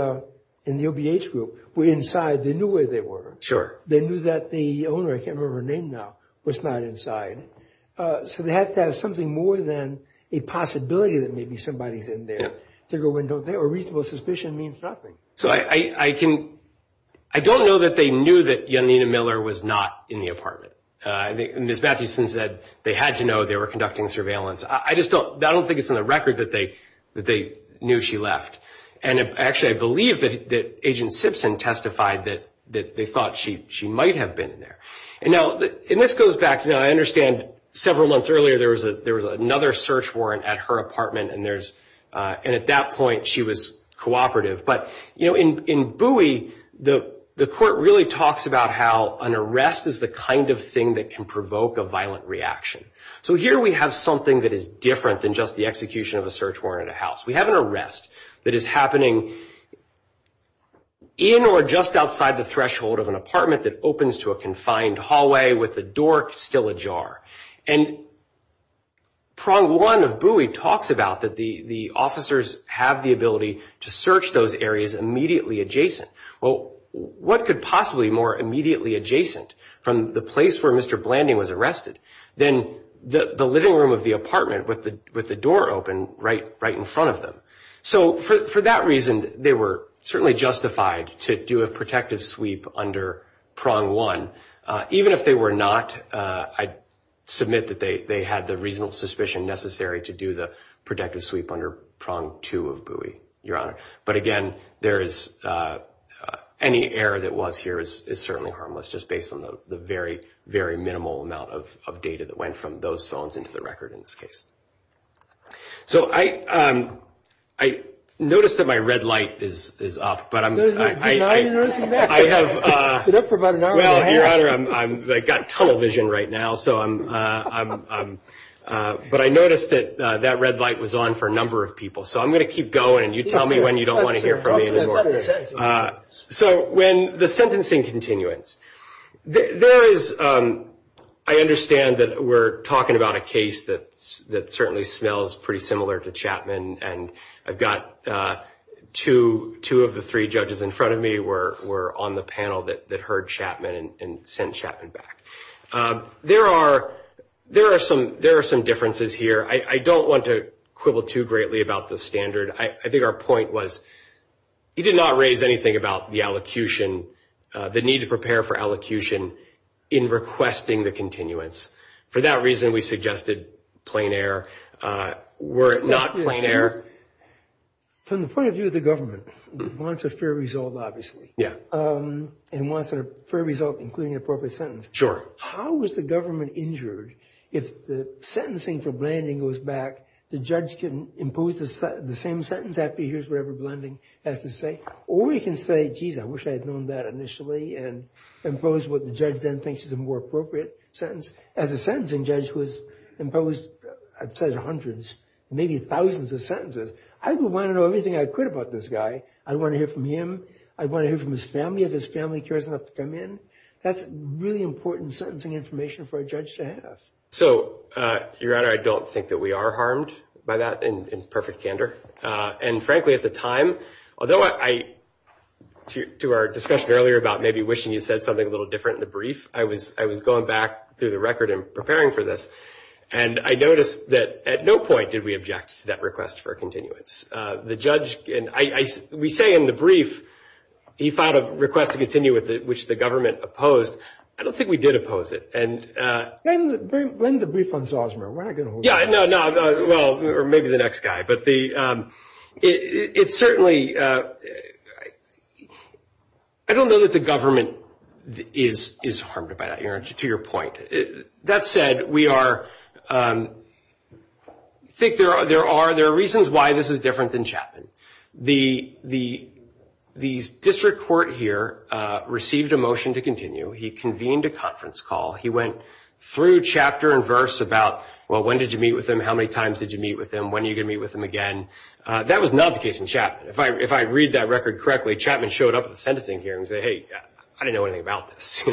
OBH group were inside. They knew where they were. They knew that the owner, I can't remember her name now, was not inside. So they had to have something more than a possibility that maybe somebody's in there. They go in there, a reasonable suspicion means nothing. So I don't know that they knew that Janina Miller was not in the apartment. Ms. Matheson said they had to know they were conducting surveillance. I just don't think it's in the record that they knew she left. And actually, I believe that Agent Simpson testified that they thought she might have been in there. And now, and this goes back, I understand several months earlier, there was another search warrant at her apartment and at that point she was cooperative. But in Bowie, the court really talks about how an arrest is the kind of thing that can provoke a violent reaction. So here we have something that is different than just the execution of a search warrant at a house. We have an arrest that is happening in or just outside the threshold of an apartment that opens to a confined hallway with the door still ajar. And prong one of Bowie talks about that the officers have the ability to search those areas immediately adjacent. Well, what could possibly more immediately adjacent from the place where Mr. Blanding was arrested than the living room of the apartment with the door open right in front of them? So for that reason, they were certainly justified to do a protective sweep under prong one. Even if they were not, I submit that they had the reasonable suspicion necessary to do the protective sweep under prong two of Bowie, Your Honor. But again, any error that was here is certainly harmless just based on the very, very minimal amount of data that went from those zones into the record in this case. So I noticed that my red light is off, but I'm... No, no, no, I noticed it back. I have... It's been up for about an hour and a half. Well, Your Honor, I've got television right now, so I'm, but I noticed that that red light was on for a number of people. So I'm going to keep going and you tell me when you don't want to hear from me anymore. So when the sentencing continuance, there is, I understand that we're talking about a case that certainly smells pretty similar to Chapman. And I've got two of the three judges in front of me were on the panel that heard Chapman and sent Chapman back. There are some differences here. I don't want to quibble too greatly about the standard. I think our point was he did not raise anything about the allocution, the need to prepare for allocution in requesting the continuance. For that reason, we suggested plain air. Were it not plain air... From the point of view of the government, wants a fair result, obviously. Yeah. And wants a fair result, including an appropriate sentence. Sure. How was the government injured if the sentencing for Blanding goes back, the judge can impose the same sentence after he hears whatever Blanding has to say, or he can say, geez, I wish I had known that initially and impose what the judge then thinks is a more appropriate sentence. As a sentencing judge who has imposed, I've said hundreds, maybe thousands of sentences, I would want to know everything I could about this guy. I'd want to hear from him. I'd want to hear from his family if his family cares enough to come in. That's really important sentencing information for a judge to have. So you're right. I don't think that we are harmed by that in perfect candor. And frankly, at the time, although I... To our discussion earlier about maybe wishing you said something a little different in the brief, I was going back through the record and preparing for this. And I noticed that at no point did we object to that request for a continuance. The judge, and we say in the brief, he filed a request to continue with it, which the government opposed. I don't think we did oppose it. And... Blend the brief on Zosmer. We're not gonna hold... Yeah, no, no. Well, or maybe the next guy. But it's certainly... I don't know that the government is harmed by that here, to your point. That said, we are... I think there are reasons why this is different than Chapman. The district court here received a motion to continue. He convened a conference call. He went through chapter and verse about, well, when did you meet with him? How many times did you meet with him? When are you gonna meet with him again? That was not the case in Chapman. If I read that record correctly, Chapman showed up at the sentencing hearing and said, hey, I didn't know anything about this.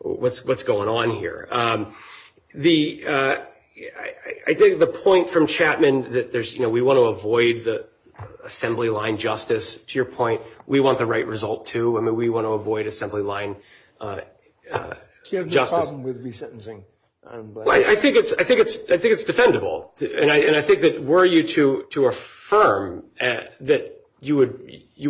What's going on here? I think the point from Chapman that there's... We wanna avoid the assembly line justice, to your point. We want the right result too. We wanna avoid assembly line... So you have no problem with resentencing? I think it's defendable. And I think that were you to affirm that you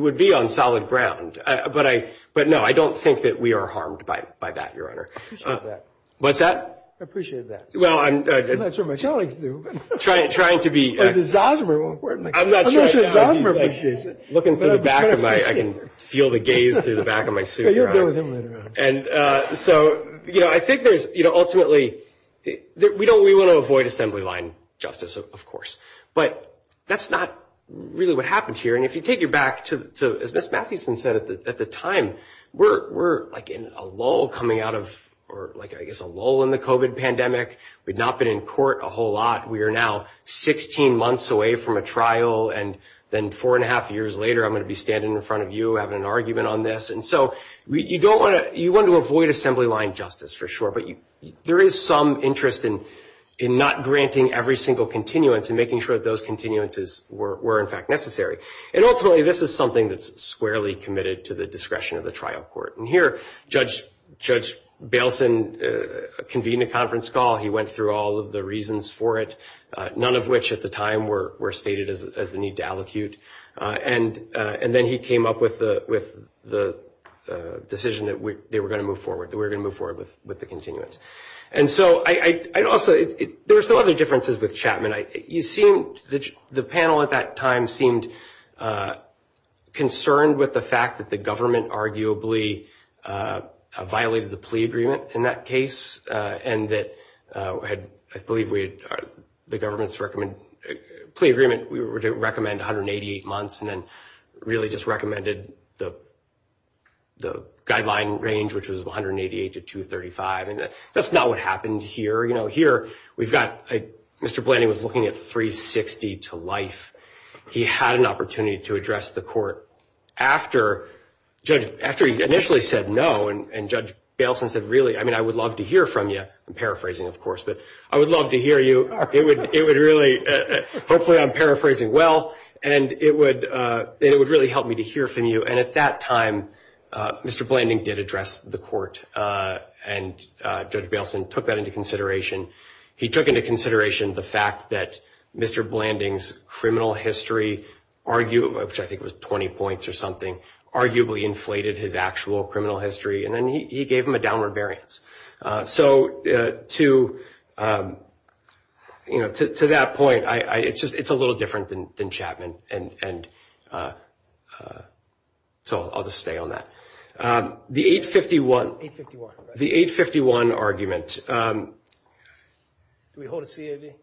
would be on solid ground. But no, I don't think that we are harmed by that, Your Honor. I appreciate that. What's that? I appreciate that. Well, I'm... I'm not sure my colleagues do. Trying to be... I'm not sure Zosmer appreciates it. Looking through the back of my... I can feel the gaze through the back of my suit. Yeah, you'll deal with him later on. And so, I think there's ultimately... We wanna avoid assembly line justice, of course. But that's not really what happens here. And if you take it back to, as Ms. Matthewson said, at the time, we're like in a lull coming out of... Or like, I guess, a lull in the COVID pandemic. We'd not been in court a whole lot. We are now 16 months away from a trial. And then four and a half years later, I'm gonna be standing in front of you, having an argument on this. And so, you wanna avoid assembly line justice, for sure. But there is some interest in not granting every single continuance and making sure that those continuances were, in fact, necessary. And ultimately, this is something that's squarely committed to the discretion of the trial court. And here, Judge Bailson convened a conference call. He went through all of the reasons for it, none of which at the time were stated as the need to allocute. And then he came up with the decision that they were gonna move forward, that we're gonna move forward with the continuance. And so, I'd also... There were still other differences with Chapman. You seem, the panel at that time, seemed concerned with the fact that the government arguably violated the plea agreement in that case. And that, I believe, the government's plea agreement, we were to recommend 188 months and then really just recommended the guideline range, which was 188 to 235. And that's not what happened here. Here, we've got... Mr. Blanding was looking at 360 to life. He had an opportunity to address the court after he initially said no. And Judge Bailson said, really, I mean, I would love to hear from you. I'm paraphrasing, of course, but I would love to hear you. Hopefully, I'm paraphrasing well. And it would really help me to hear from you. And at that time, Mr. Blanding did address the court. And Judge Bailson took that into consideration. He took into consideration the fact that Mr. Blanding's criminal history, arguably, which I think was 20 points or something, arguably inflated his actual criminal history. And then he gave him a downward variance. So to that point, it's a little different than Chapman. And so I'll just stay on that. The 851 argument... Can we hold a CAD?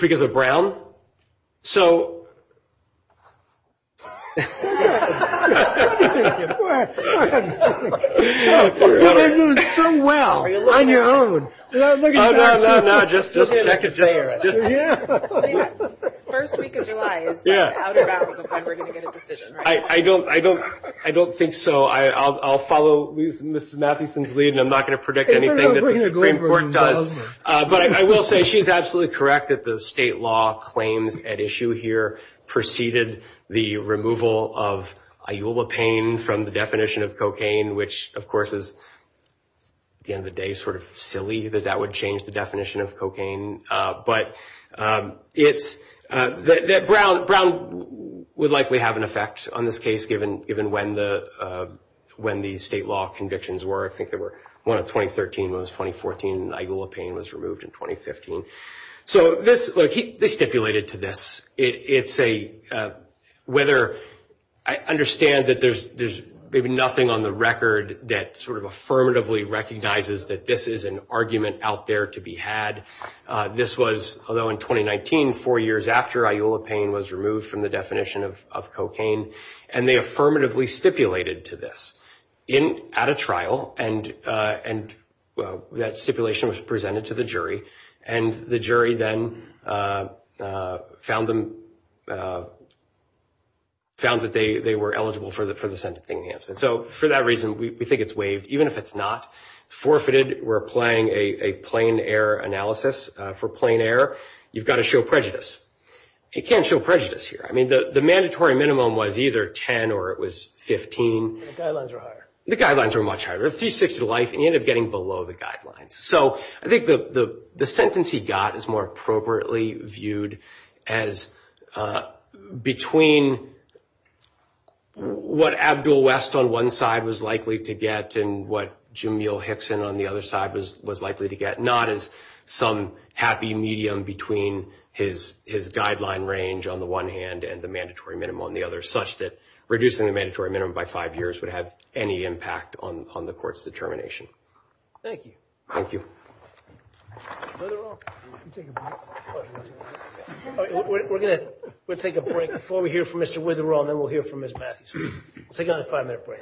Because of Brown? So... You're doing so well on your own. No, no, no, no, just a second there. First week of July is the out of bounds of when we're going to get a decision. I don't think so. I'll follow Ms. Mathieson's lead, and I'm not going to predict anything. But I will say she's absolutely correct that the state law claims at issue here preceded the removal of iulopane from the definition of cocaine, which of course is, at the end of the day, sort of silly that that would change the definition of cocaine. But Brown would likely have an effect. On this case, given when the state law convictions were, I think they were one of 2013, when it was 2014, iulopane was removed in 2015. So they stipulated to this. I understand that there's maybe nothing on the record that sort of affirmatively recognizes that this is an argument out there to be had. This was, although in 2019, four years after iulopane was removed from the definition of cocaine, and they affirmatively stipulated to this at a trial, and that stipulation was presented to the jury, and the jury then found that they were eligible for the sentencing answer. So for that reason, we think it's waived, even if it's not forfeited. We're playing a plain error analysis. For plain error, you've got to show prejudice. You can't show prejudice here. I mean, the mandatory minimum was either 10 or it was 15. And the guidelines were higher. The guidelines were much higher. 360 life, and he ended up getting below the guidelines. So I think the sentence he got is more appropriately viewed as between what Abdul West on one side was likely to get and what Jamil Hickson on the other side was likely to get, not as some happy medium between his guideline range on the one hand and the mandatory minimum on the other, such that reducing the mandatory minimum by five years would have any impact on the court's determination. Thank you. Thank you. We're going to take a break before we hear from Mr. Witherell, and then we'll hear from Ms. Patterson. Take another five-minute break.